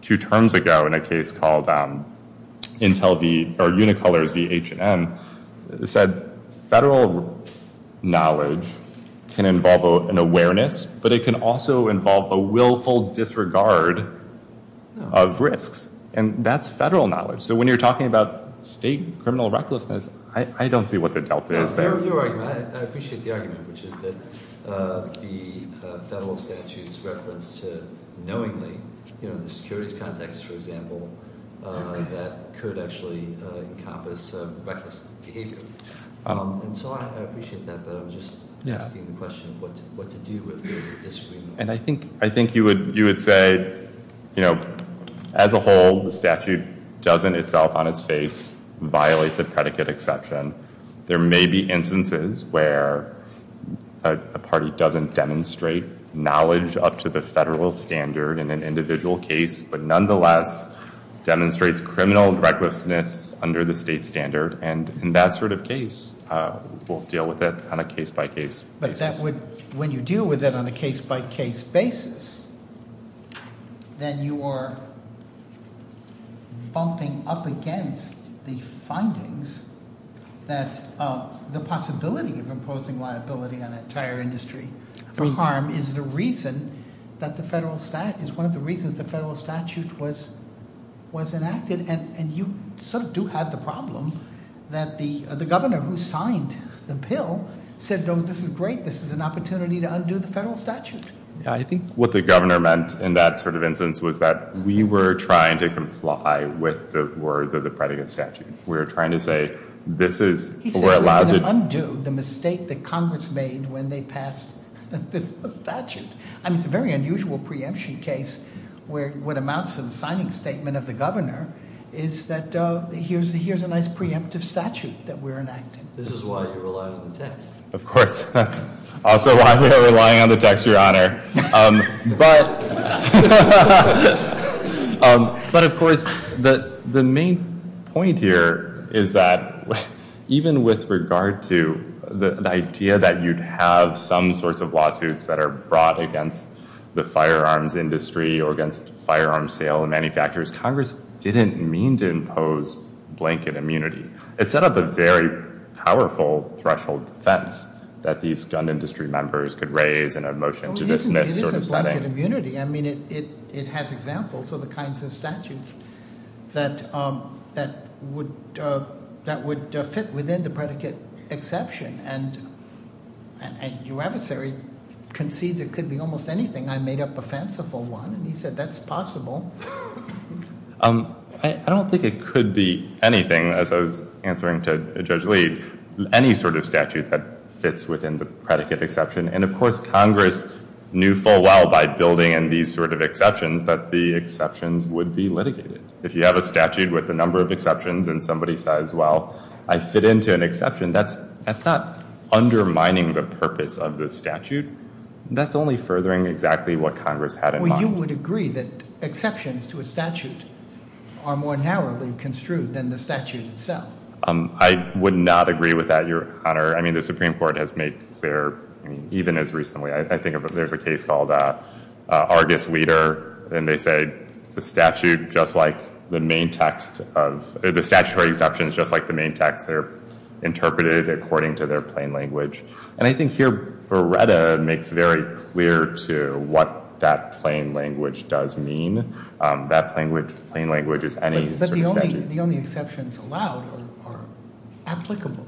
two terms ago in a case called Intel v., or Unicolor v. H&M, said federal knowledge can involve an awareness, but it can also involve a willful disregard of risks, and that's federal knowledge. So when you're talking about state criminal recklessness, I don't see what the delta is. I appreciate the argument, which is that the federal statute is referenced knowingly in the security context, for example, that could actually encompass reckless behavior. And so I appreciate that, but I was just asking the question of what to do with the disagreement. And I think you would say, as a whole, the statute doesn't itself on its face violate the predicate exception. There may be instances where a party doesn't demonstrate knowledge up to the federal standard in an individual case, but nonetheless demonstrates criminal recklessness under the state standard. And in that sort of case, we'll deal with it on a case-by-case basis. But when you deal with it on a case-by-case basis, then you are bumping up against the findings that the possibility of imposing liability on an entire industry. The harm is the reason that the federal statute, it's one of the reasons the federal statute was enacted. And you sort of do have the problem that the governor who signed the bill said, oh, this is great. This is an opportunity to undo the federal statute. I think what the governor meant in that sort of instance was that we were trying to comply with the words of the predicate statute. We were trying to say, this is, we're allowed to... He said, undo the mistake that Congress made when they passed the statute. And it's a very unusual preemption case where what amounts to the signing statement of the governor is that here's a nice preemptive statute that we're enacting. This is why you're allowed to test. Of course. Also why we're relying on the text your honor. But... But of course, the main point here is that even with regard to the idea that you'd have some sorts of lawsuits that are brought against the firearms industry or against firearm sale and manufacturers, Congress didn't mean to impose blanket immunity. It set up a very powerful threshold defense that these gun industry members could raise in a motion to dismiss sort of setting. It isn't blanket immunity. I mean, it has examples of the kinds of statutes that would fit within the predicate exception. And your adversary concedes it could be almost anything. I made up a fanciful one. He said, that's possible. I don't think it could be anything. As I was answering to Judge Lee, any sort of statute, that fits within the predicate exception. And of course, Congress knew full well by building in these sort of exceptions that the exceptions would be litigated. If you have a statute with a number of exceptions and somebody says, well, I fit into an exception, that's not undermining the purpose of the statute. That's only furthering exactly what Congress had in mind. Well, you would agree that exceptions to a statute are more narrowly construed than the statute itself. I would not agree with that, your honor. I mean, the Supreme Court has made clear, even as recently, I think there's a case called Argus-Weider. And they say, the statute, just like the main text, the statutory exceptions, just like the main text, are interpreted according to their plain language. And I think here, Beretta makes very clear to what that plain language does mean. That plain language is any sort of exception. But the only exceptions allowed are applicable.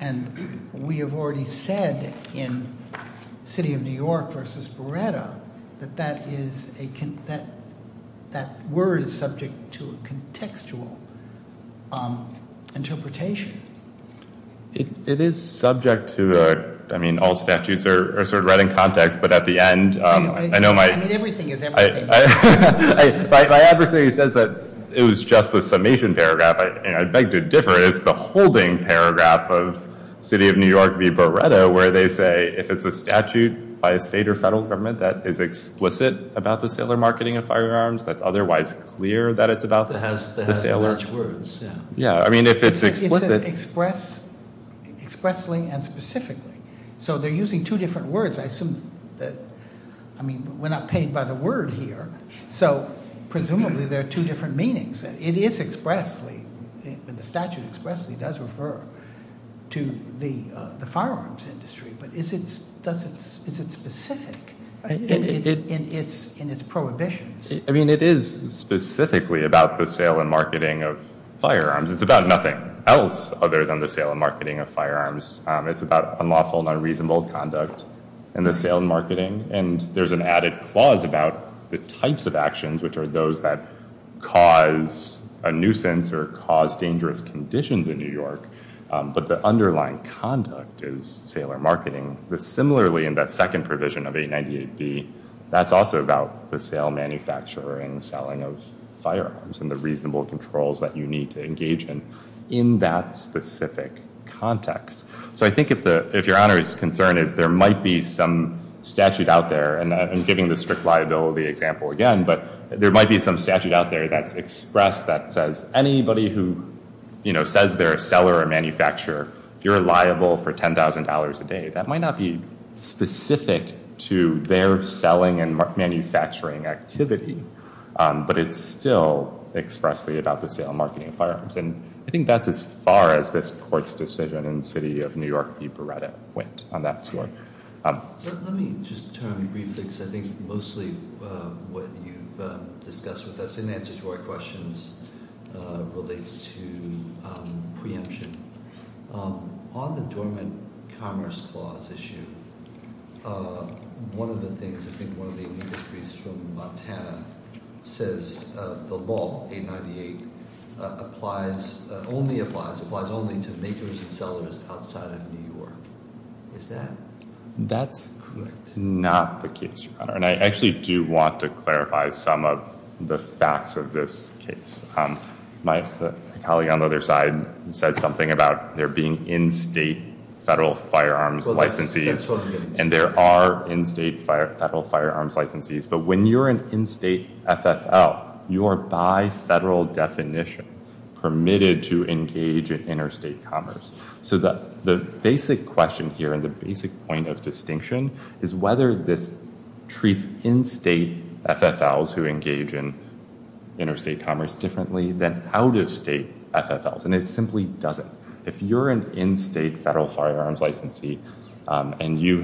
And we have already said in City of New York versus Beretta, that that is a, that word is subject to a contextual interpretation. It is subject to, I mean, all statutes are sort of right in context, but at the end, I know my... Everything is everything. By everything, it says that it was just the summation paragraph. I beg to differ, but it's the holding paragraph of City of New York v. Beretta where they say, if it's a statute by a state or federal government that is explicit about the saler marketing of firearms, that's otherwise clear that it's about the saler... It has large words, yeah. Yeah, I mean, if it's explicit... It's expressed, expressly and specifically. So they're using two different words. I assume that, I mean, we're not paid by the word here. So, presumably, there are two different meanings. It is expressly, when the statute expressly does refer to the firearms industry, but is it specific in its prohibitions? I mean, it is specifically about the saler marketing of firearms. other than the saler marketing of firearms. It's about unlawful, non-reasonable conduct and the saler marketing, and there's an added clause about the types of actions, which are those that cause a nuisance or cause dangerous conditions in New York, but the underlying conduct is saler marketing. Similarly, in that second provision of 898B, that's also about the sale, manufacturing, and selling of firearms and the reasonable controls that you need to engage in in that specific context. So I think if Your Honor is concerned, there might be some statute out there, and I'm giving the strict liability example again, but there might be some statute out there that's expressed that says anybody who, you know, says they're a seller or a manufacturer, you're liable for $10,000 a day. That might not be specific to their selling and manufacturing activity, but it's still expressly about the sale and marketing of firearms, and I think that's as far as this Court's decision in the City of New York v. Beretta went on that point. Let me just turn briefly to I think mostly what you've discussed with us as an answer to our questions relates to preemption. On the dormant commerce laws issue, one of the things, I think one of the industries from Montana says the law 898 applies, only applies, applies only to makers and sellers outside of New York. Is that correct? Not the case, Your Honor, and I actually do want to clarify some of the facts of this case. My colleague on the other side said something about there being in-state federal firearms licensees, and there are in-state federal firearms licensees, but when you're an in-state FFL, you are by federal definition permitted to engage in interstate commerce. So the basic question here and the basic point of distinction is whether this treats in-state FFLs to engage in interstate commerce differently than out-of-state FFLs, and it simply doesn't. If you're an in-state federal firearms licensee and you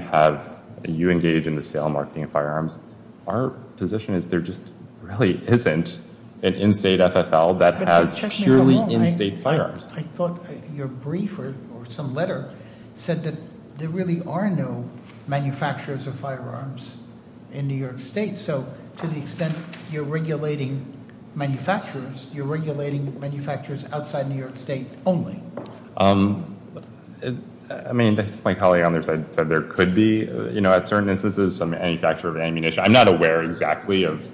engage in the sale and marketing of firearms, our position is there just really isn't an in-state FFL that has purely in-state firearms. I thought your brief or some letter said that there really are no manufacturers of firearms in New York State, so to the extent that you're regulating manufacturers, you're regulating manufacturers outside New York State only. Um, I mean, my colleague on the other side said there could be, you know, at certain instances, some manufacturer of ammunition. I'm not aware exactly of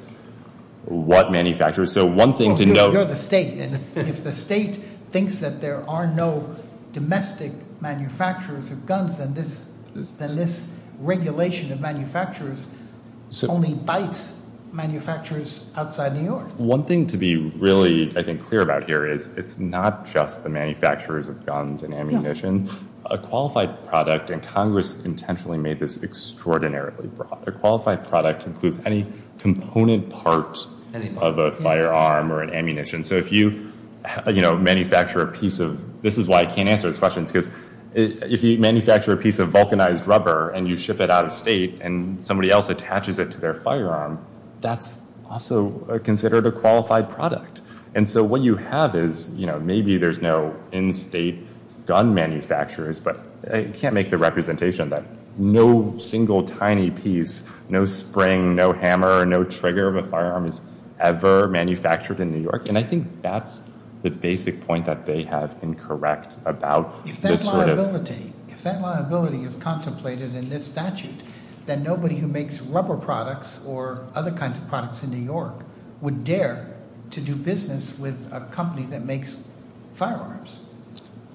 what manufacturers, so one thing to note... Well, here we go to the state, and if the state thinks that there are no domestic manufacturers of guns, then this regulation of manufacturers only bites manufacturers outside New York. One thing to be really, I think, clear about here is it's not just the manufacturers of guns and ammunition. A qualified product, and Congress intentionally made this extraordinarily broad, a qualified product includes any component parts of a firearm or an ammunition. So if you, you know, manufacture a piece of... This is why I can't answer this question because if you manufacture a piece of vulcanized rubber and you ship it out of state and somebody else attaches it to their firearm, that's also considered a qualified product. And so what you have is, you know, maybe there's no in-state gun manufacturers, but I can't make the representation that no single tiny piece, no spring, no hammer, no trigger of a firearm is ever manufactured in New York, and I think that's that they have been correct about this sort of... If that liability, if that liability is contemplated in this statute, then nobody who makes rubber products or other kinds of products in New York would dare to do business with a company that makes firearms.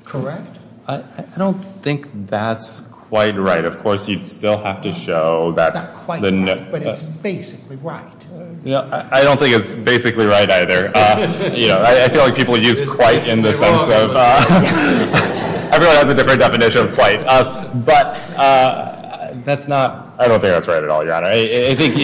Correct? I don't think that's quite right. Of course, you'd still have to show that... It's not quite right, but it's basically right. Yeah, I don't think it's basically right either. You know, I feel like people use quite in this way, so... Everyone has a different definition of quite, but that's not... I don't think that's right at all, John. I think...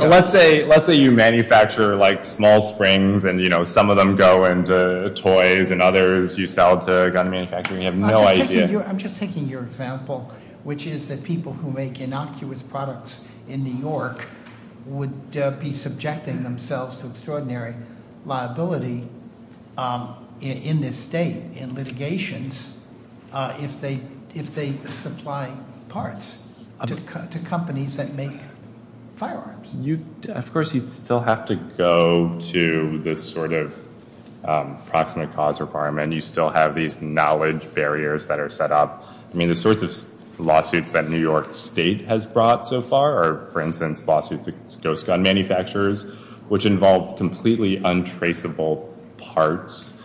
Let's say you manufacture like small springs and, you know, some of them go into toys and others you sell to gun manufacturers and you have no idea. I'm just thinking your example, which is that people in New York would be subjecting themselves to extraordinary liability in this state in litigations if they supply parts to people who make innocuous products to companies that make firearms. Of course, you still have to go to this sort of proximate cause requirement. You still have these knowledge that are set up. I mean, the sort of lawsuits that New York State has brought so far are, for instance, lawsuits against gun manufacturers which involve completely untraceable parts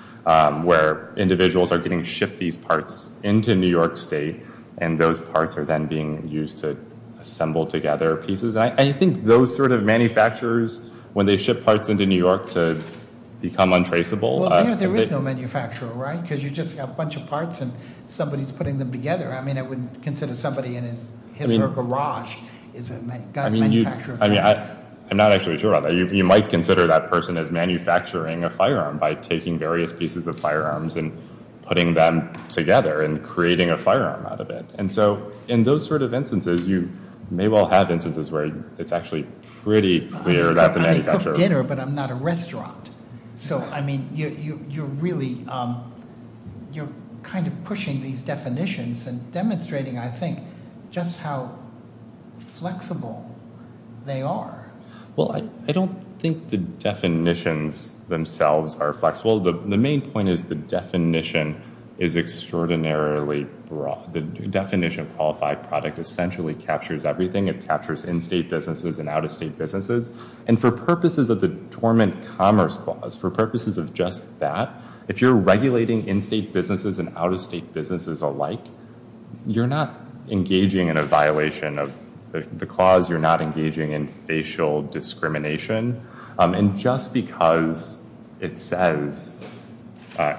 where individuals are getting shipped these parts into New York State and those parts are then being used to assemble together pieces. And I think those sort of manufacturers, when they ship parts into New York to become untraceable... Well, there is no manufacturer, right? Because you just have a bunch of parts and somebody is putting them together. I mean, I would consider somebody in his garage is a gun manufacturer. I mean, I'm not actually sure about that. You might consider that person as manufacturing a firearm by taking various pieces of firearms and putting them together and creating a firearm out of it. And so, in those sort of instances, you may well have instances where it's actually pretty clear that the manufacturer... I cook dinner, but I'm not a restaurant. So, I mean, you're really, you're kind of pushing these definitions and demonstrating, I think, just how flexible they are. Well, I don't think the definitions themselves are flexible. The main point is the definition is extraordinarily broad. The definition of qualified product essentially captures everything. It captures in-state businesses and out-of-state businesses. And for purposes of the Torment Commerce Clause, for purposes of just that, if you're regulating in-state businesses and out-of-state businesses alike, you're not engaging in a violation of the clause. You're not engaging in facial discrimination. And just because it says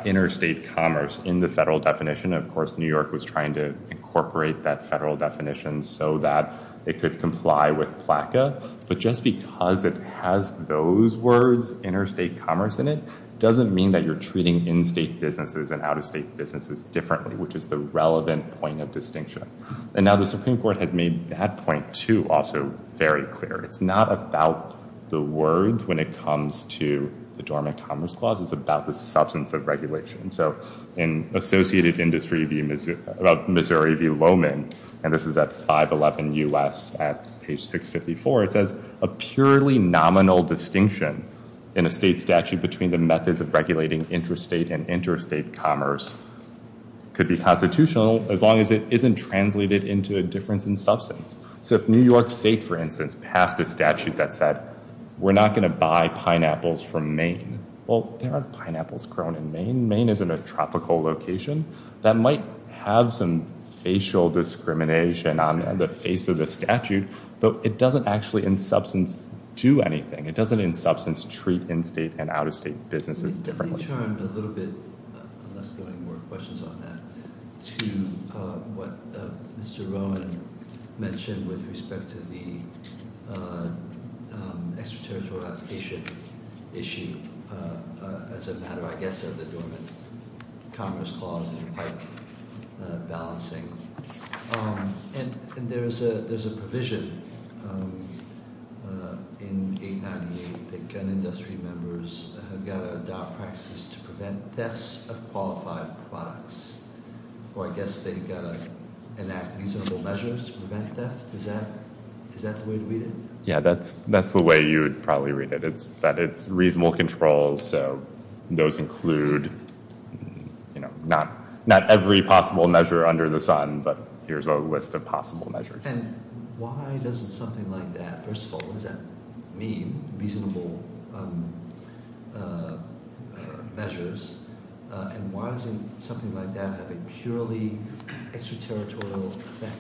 interstate commerce in the federal definition, of course, New York was trying to incorporate that federal definition so that it could comply with PLACA. But just because it has those words, interstate commerce in definition, doesn't mean that you're treating in-state businesses and out-of-state businesses differently, which is the relevant point of distinction. And now the Supreme Court has made that point, too, also very clear. It's not about the words when it comes to the Torment Commerce Clause. It's about the substance of regulation. So in the Associated Industry of Missouri v. Lowman, and this is at page 654, it says a purely nominal distinction in a state statute between the methods of regulating interstate and interstate commerce could be constitutional as long as it isn't translated into a difference in substance. So if New York State, for instance, passed a statute that said we're not going to buy pineapples from Maine, well, there are pineapples grown in Maine. Maine is in a tropical location that might have some facial discrimination on the face of the statute, but it doesn't actually in substance do anything. It doesn't in substance treat in-state and out-of-state businesses differently. I'm going to turn a little bit, unless there are any more questions on that, to what Mr. Roman mentioned with respect to the extraterritorial application issue as a matter, I guess, of the government commerce clause and the right balancing. And there's a provision in 898 that states that government has to adopt practices to prevent deaths of qualified products, or I guess they have to enact reasonable measures to prevent death. Is that the way to read it? That's the way you would probably read it. It's reasonable control, so those include not every possible measure under the sun, but here's a list of possible measures. And why does something like that mean reasonable measures, and why doesn't something like that have a purely extraterritorial effect?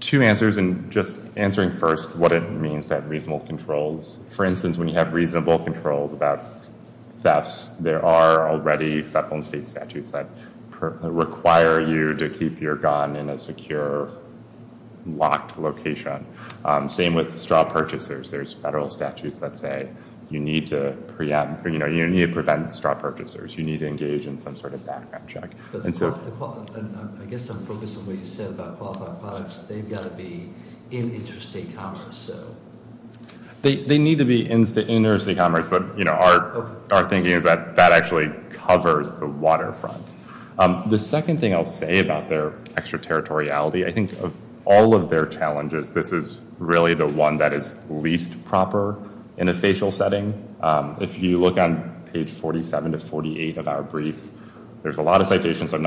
Two answers, and just answering first what it means to have reasonable controls. For instance, when you have reasonable controls about deaths, there are already federal and state statutes that require you to keep your gun in a secure locked location. Same with straw purchasers. There's federal statutes that say you need to prevent straw purchasers. You need to engage in some sort of background check. They need to be in interstate control. to be in a safe environment. The second thing I'll say about their extraterritoriality, of all of their challenges, this is really the one that is least proper in a spatial setting. If you look on page 47 of our brief, there's a lot of citations, but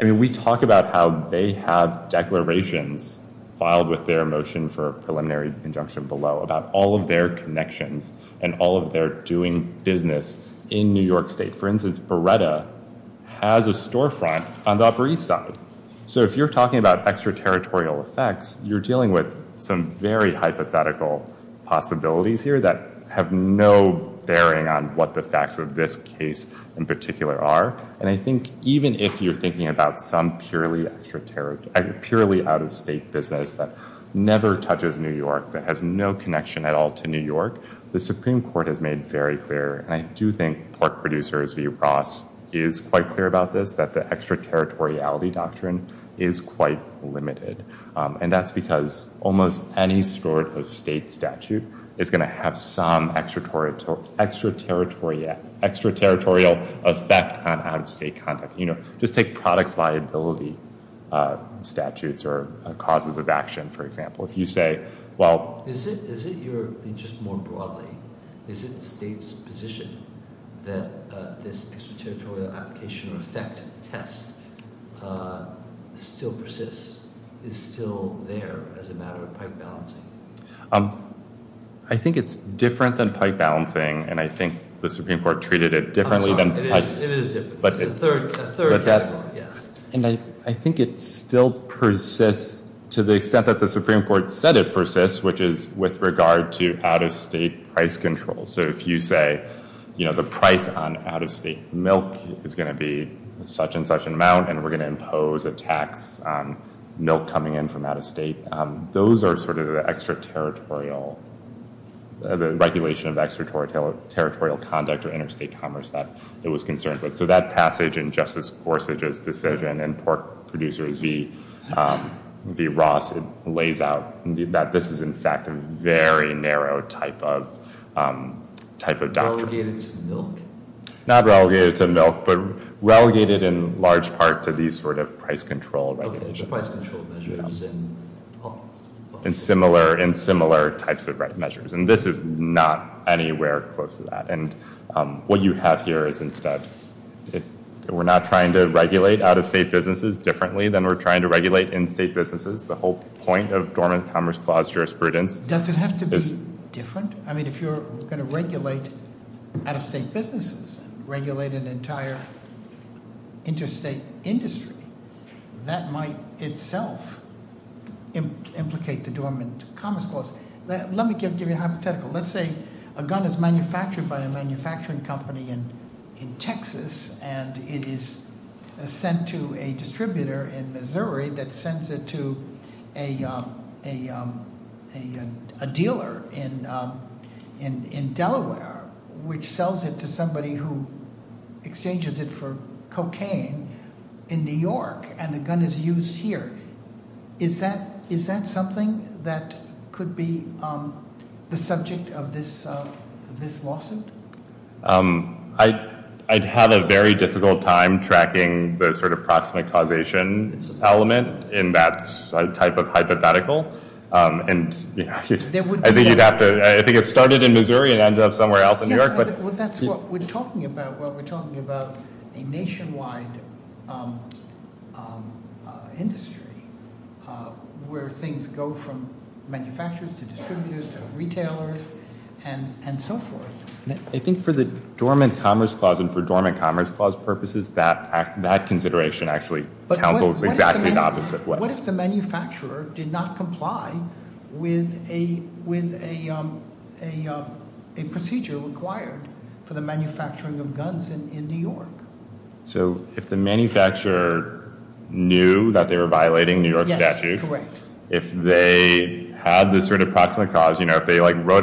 we talk about how they have declarations filed with their motion for preliminary injunction below about all of their connections and all of their doing business in New York state. For instance, Beretta has a store front. If you're talking about extraterritorial effects, you're dealing with hypothetical possibilities that have no bearing on what the facts of this case in particular are. I think even if you're thinking about some purely out-of-state business that never touches New York, that has no connection at all to New York, the Supreme Court has made very clear, and I do think the producer is quite clear about this, that the extraterritoriality doctrine is quite limited. And that's because almost any sort of state statute is going to have some extraterritorial effect on out-of-state conduct. Just take product liability statutes or causes of action, for example. If you say, well... Is it your interest more broadly? Is it the state's position that this extraterritorial application effect test still persists, is still there as a matter of pipe balancing? I think it's different than pipe balancing, and I think the Supreme Court treated it differently than pipe. It is different. And I think it still persists to the extent that the Supreme Court said it persists, which is with regard to out-of-state price control. So if you say the price on out-of-state milk is going to be such and such amount and we're going to impose a tax on milk coming in from out-of-state, those are sort of the extraterritorial conduct or interstate commerce that it was concerned with. So that passage in Justice Sotomayor's that was a very controversial type of doctrine. Not relegated to milk, but relegated in large part to these sort of price control measures and similar types of measures. And this is not anywhere close to that. And what you have here is that we're not trying to regulate out-of-state businesses differently than we're trying to regulate in-state businesses. The whole point of Dormant Commerce Clause jurisprudence is... Does it have to be different? I mean, if you're going to regulate out-of-state businesses, regulate an entire interstate industry, that might itself implicate the Dormant Commerce Clause. Let me give you a hypothetical. Let's say a gun is manufactured by a manufacturing company in Texas and it is sent to a distributor in Missouri that sends it to a dealer in Delaware, which sells it to somebody who exchanges it for cocaine in New York and the gun is used here. Is that something that could be the subject of this lawsuit? I've had a very difficult time tracking the sort of process causation element in that type of hypothetical. I think it started in Missouri and ended up somewhere else in New York. That's what we're talking about when we're talking about a nationwide industry where things go from manufacturers to distributors to retailers and so forth. I think for the Dormant Commerce Clause and for Dormant Commerce Clause purposes, that consideration actually counsels exactly the opposite way. What if the manufacturer did not comply with a procedure required for the manufacturing of guns in New York? If the manufacturer knew that they were violating New York statutes, if they wrote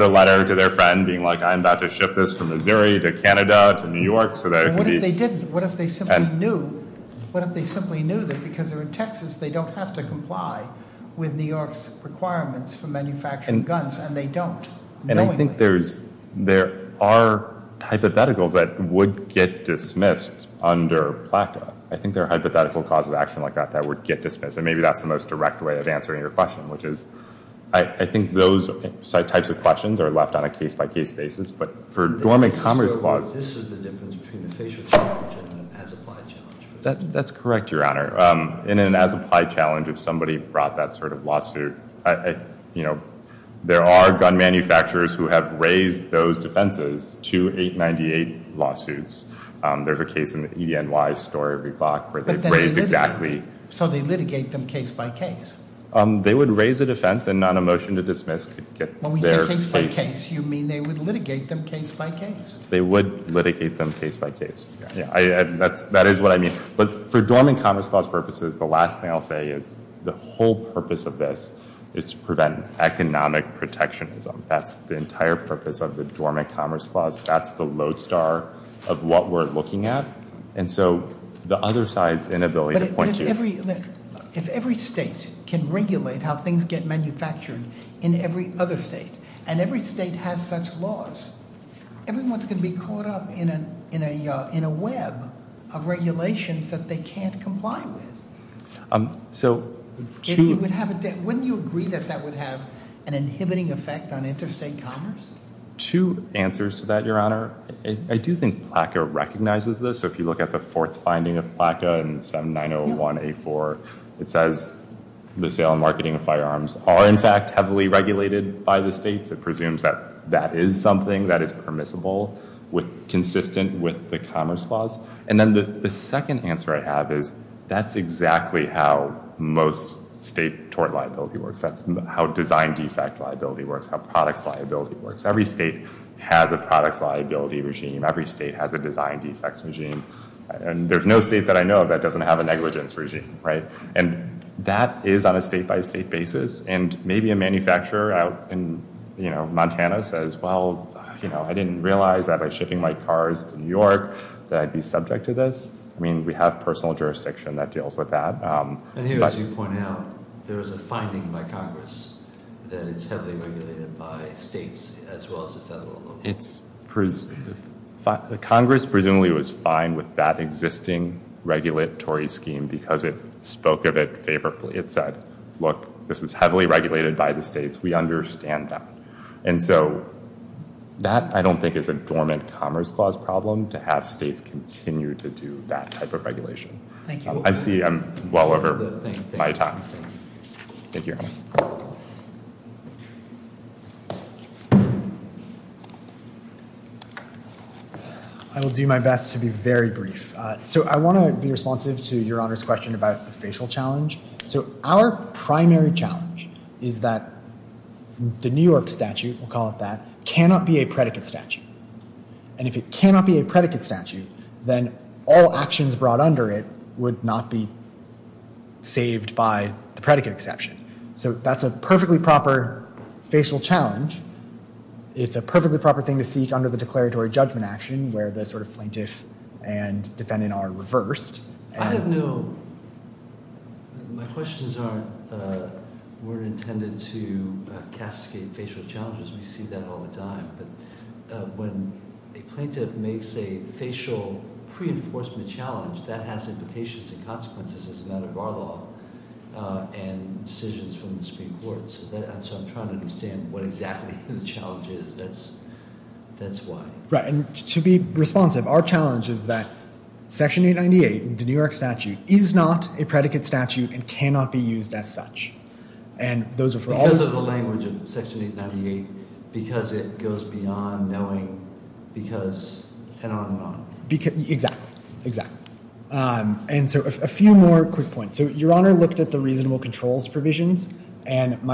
a letter to their friend being like I'm about to ship this to Missouri, to Canada, to New York. What if they simply knew because they're in New that they were violating New York they were violating New York statutes, if they wrote a letter to their friend being like I'm about to ship this to Missouri, to Canada, to New York? If the manufacturer knew that they were violating New York statutes, if they wrote a letter to their friend being like I'm about to ship this to Missouri, to New York, if manufacturer knew that they were violating New York statutes, if they wrote a letter to their friend being like I'm about to ship this to Missouri, to New York? If the manufacturer knew that they were to ship this to Missouri, if manufacturer knew that they were violating New York statutes, if they wrote a letter to their friend being like to ship this to if manufacturer knew that violating New York statutes, if manufacturer knew that they were violating New York statutes, if manufacturer knew that they were violating New York statutes, if manufacturer knew that they were violating New York states, we understand them. And so that, I don't think is a dormant commerce clause problem to have states continue to do that type of regulation. I'm well over my time. Thank you. I will do my best to be very brief. I want to be responsive to your honor's question. Our primary challenge is that the New York statute cannot be a predicate statute. If it cannot be a predicate statute, all actions brought under it would not be saved by the predicate exception. That's a perfectly proper facial challenge. It's a perfectly proper thing to seek under the declaratory judgment action. I have no questions. We're intended to castigate facial challenges. We see that all the time. When a plaintiff makes a facial pre-enforcement challenge, that has implications and consequences decisions from the Supreme Court. I'm trying to understand what the challenge is. Our challenge is that the New York statute is not a predicate statute and cannot be used as such. Because it goes beyond knowing because and on and on. A few more quick points. Your honor looked at the reasonable controls provisions. It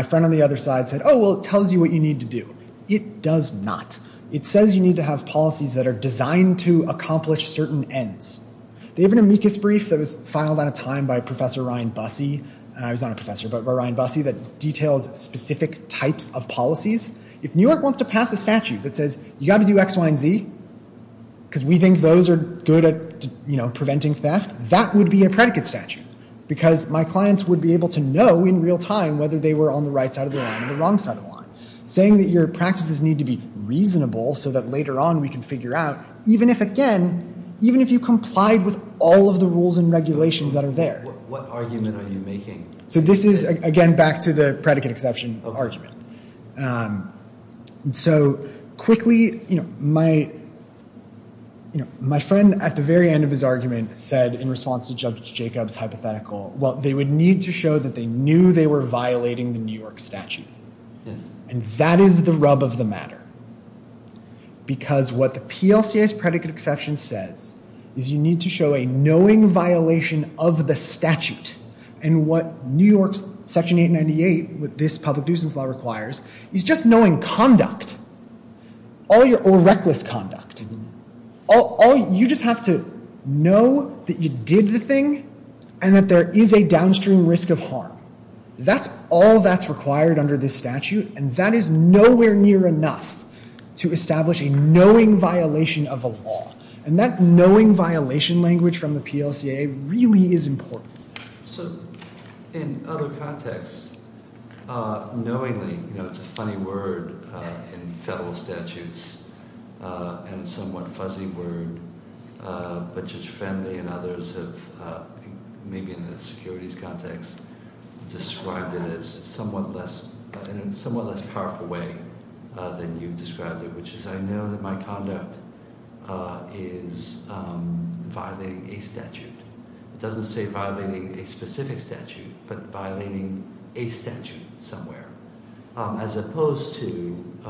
does not. It says you need to have policies designed to accomplish certain ends. There was a brief that was filed by a professor that looked at specific types of policies. If New York wants to pass a statute that says you have to do X, Y, and Z, that would be a predicate statute. Saying your practices need to be reasonable so later on we can figure out even if you complied with all the rules and regulations. This is back to the predicate exception of argument. Quickly, my friend at the very end of his argument said they would need to show they knew they were violating the New York statute. And that is the rub of the matter. Because what the predicate exception says is you need to show a knowing violation of the statute. And what New York section 898 requires is just knowing conduct. Reckless conduct. You just have to know that you did the thing and that there is a downstream risk of harm. That is nowhere near enough to establish a knowing violation of a law. And that knowing violation language from the PLCA really is important. So in other contexts, knowingly, you know, it's a funny word in federal statutes and somewhat fuzzy word, but Judge Fanley and others have maybe in the securities context described it as somewhat less, in a somewhat less powerful way than you described it, which is I know that my conduct is violating a statute. It doesn't say violating a specific statute, but violating a statute somewhere. As opposed to, you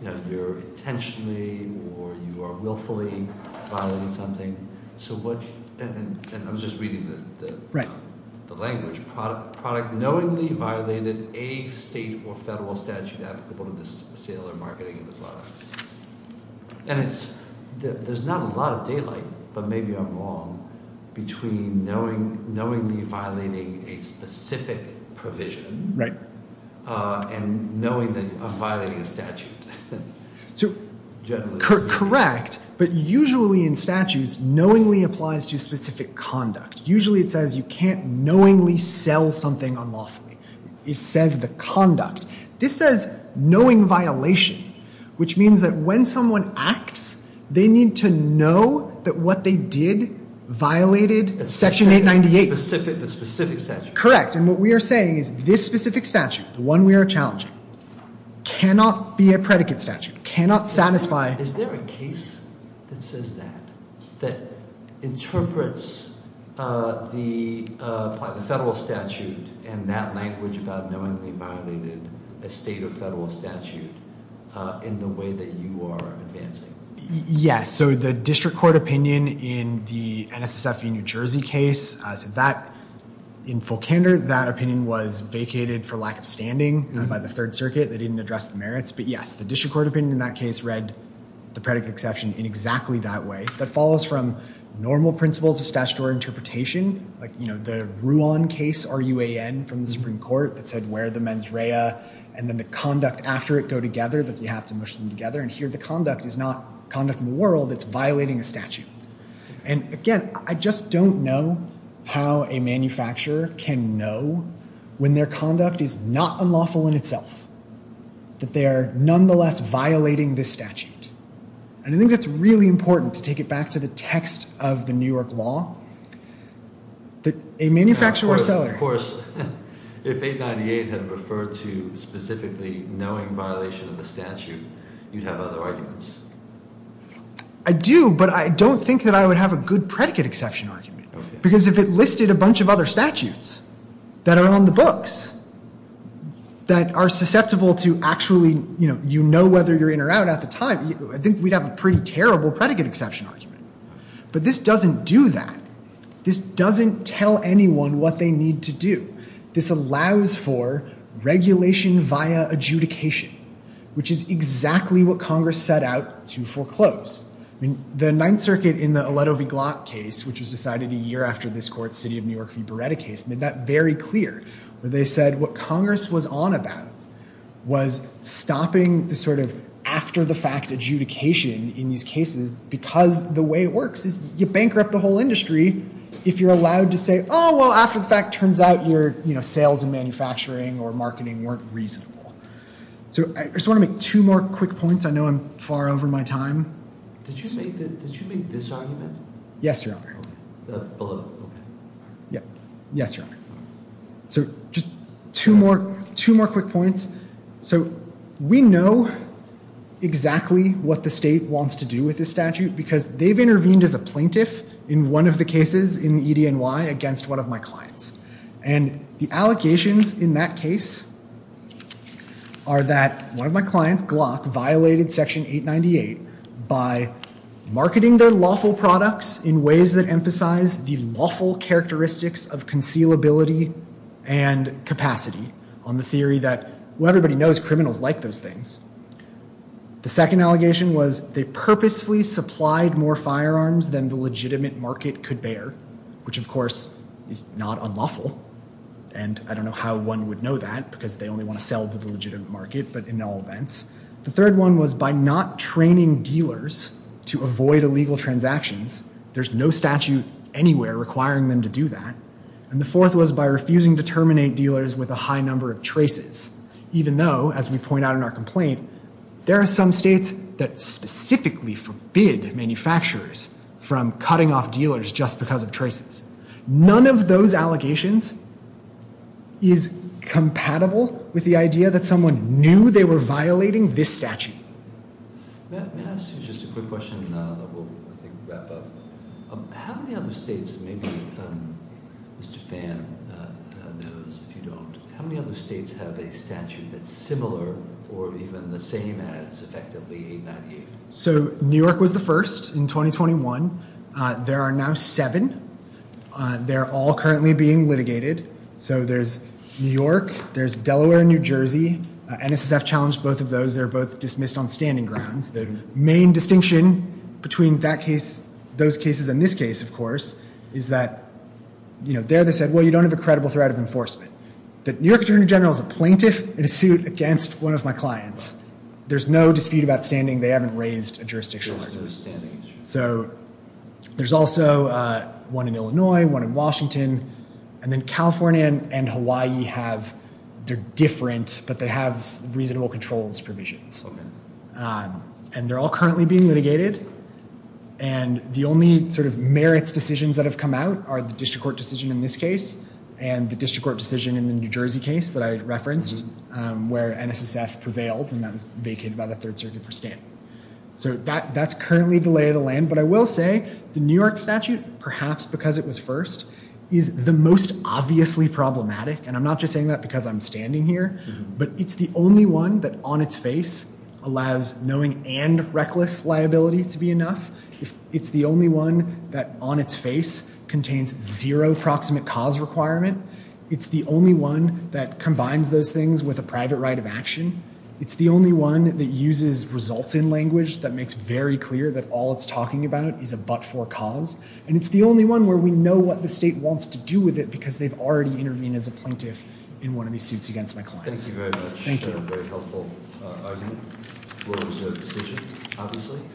know, if you're intentionally or you are willfully violating something, so what, and I'm just reading the language, product knowingly violated a state or federal statute applicable to the sale or marketing of the product. And it's, there's not a lot of dealing, but maybe I'm wrong, between knowingly violating a specific provision and knowingly violating a statute. Correct, but usually in statutes, knowingly applies to specific conduct. Usually it says you can't knowingly sell something unlawfully. It says the conduct. This says knowingly violates a specific statute. Correct. And what we are saying is this specific statute, the one we are challenging, cannot be a statute, cannot satisfy Is there a case that says that, that interprets the federal statute in that language about knowingly violating a state or federal statute in the way that you are advancing? Yes. So the district court opinion in the NSSF New Jersey case, in full candor, that opinion was vacated for lack of standing by the third circuit, but yes, the district court opinion in that case read the predicate exception in exactly that way. It follows from normal principles of interpretation, the case from the Supreme Court that said where the conduct after it go together and here the conduct is not conduct in the world, it's violating a statute. I don't know how a manufacturer can know when their conduct is not unlawful in itself, that they are nonetheless violating the statute. I think it's really important to take it back to the text of the New York law. A manufacturer or seller. Of course, if they refer to specifically knowing violation of the statute, you have other arguments. I do, but I don't think I would have a good predicate exception argument. Because if it listed a bunch of other statutes that are on the books, that are susceptible to actually you know whether you're in or out at the time, I think we'd have a pretty terrible predicate exception argument. But this doesn't do that. This doesn't tell anyone what they need to do. This allows for regulation via adjudication. Which is exactly what Congress set out to foreclose. The 9th circuit in the case which was decided a year after this case made that very clear. They said what Congress was on about was stopping sort of after the fact adjudication in these cases because the way it works is you bankrupt the whole industry if you're allowed to say after the fact it turns out sales and manufacturing weren't reasonable. Two more quick points. I know I'm far over my time. Two more quick points. So we know that doesn't have exactly what the state wants to do with this statute because they've intervened as a plaintiff in one of the cases against one of my clients. The allegations in that case are that one of my clients violated section 898 by not training dealers to avoid illegal transactions. There's no statute anywhere requiring them to do by refusing to terminate dealers with a high number of traces. Even if they did do that they wouldn't be able to get away with it. Even though there are some states that specifically forbid manufacturers from cutting off dealers just because of traces. None of those allegations is compatible with the idea that someone knew they were violating this statute. So New York was the first in 2021. There are now seven. They're all currently being litigated. So there's New York, there's Delaware and New Jersey. NSSF challenged both of those. They're both dismissed as illegal transactions. The main distinction between those cases and this case, of course, is that there they said you don't have a credible threat of enforcement. New York attorney general is a plaintiff in a suit against one of my clients. There's no dispute about standing. There's also one in Illinois, one in Washington. California have reasonable controls provisions. They're all currently being litigated. The only merits decisions that have come out are the district court decision in this case and the New Jersey case where NSSF prevailed. That's currently being litigated. I will say the New York statute, perhaps because it was first, is the most obviously problematic. It's the only one that on its face allows knowing and reckless liability to be enough. It's the only one that on its face contains zero proximate cause requirement. It's the only one that combines those things with a private right of action. It's the only one that uses results in language that makes clear that all it's is a but for cause. It's the only one where we know what the state wants to do with it because they've intervened as a of it.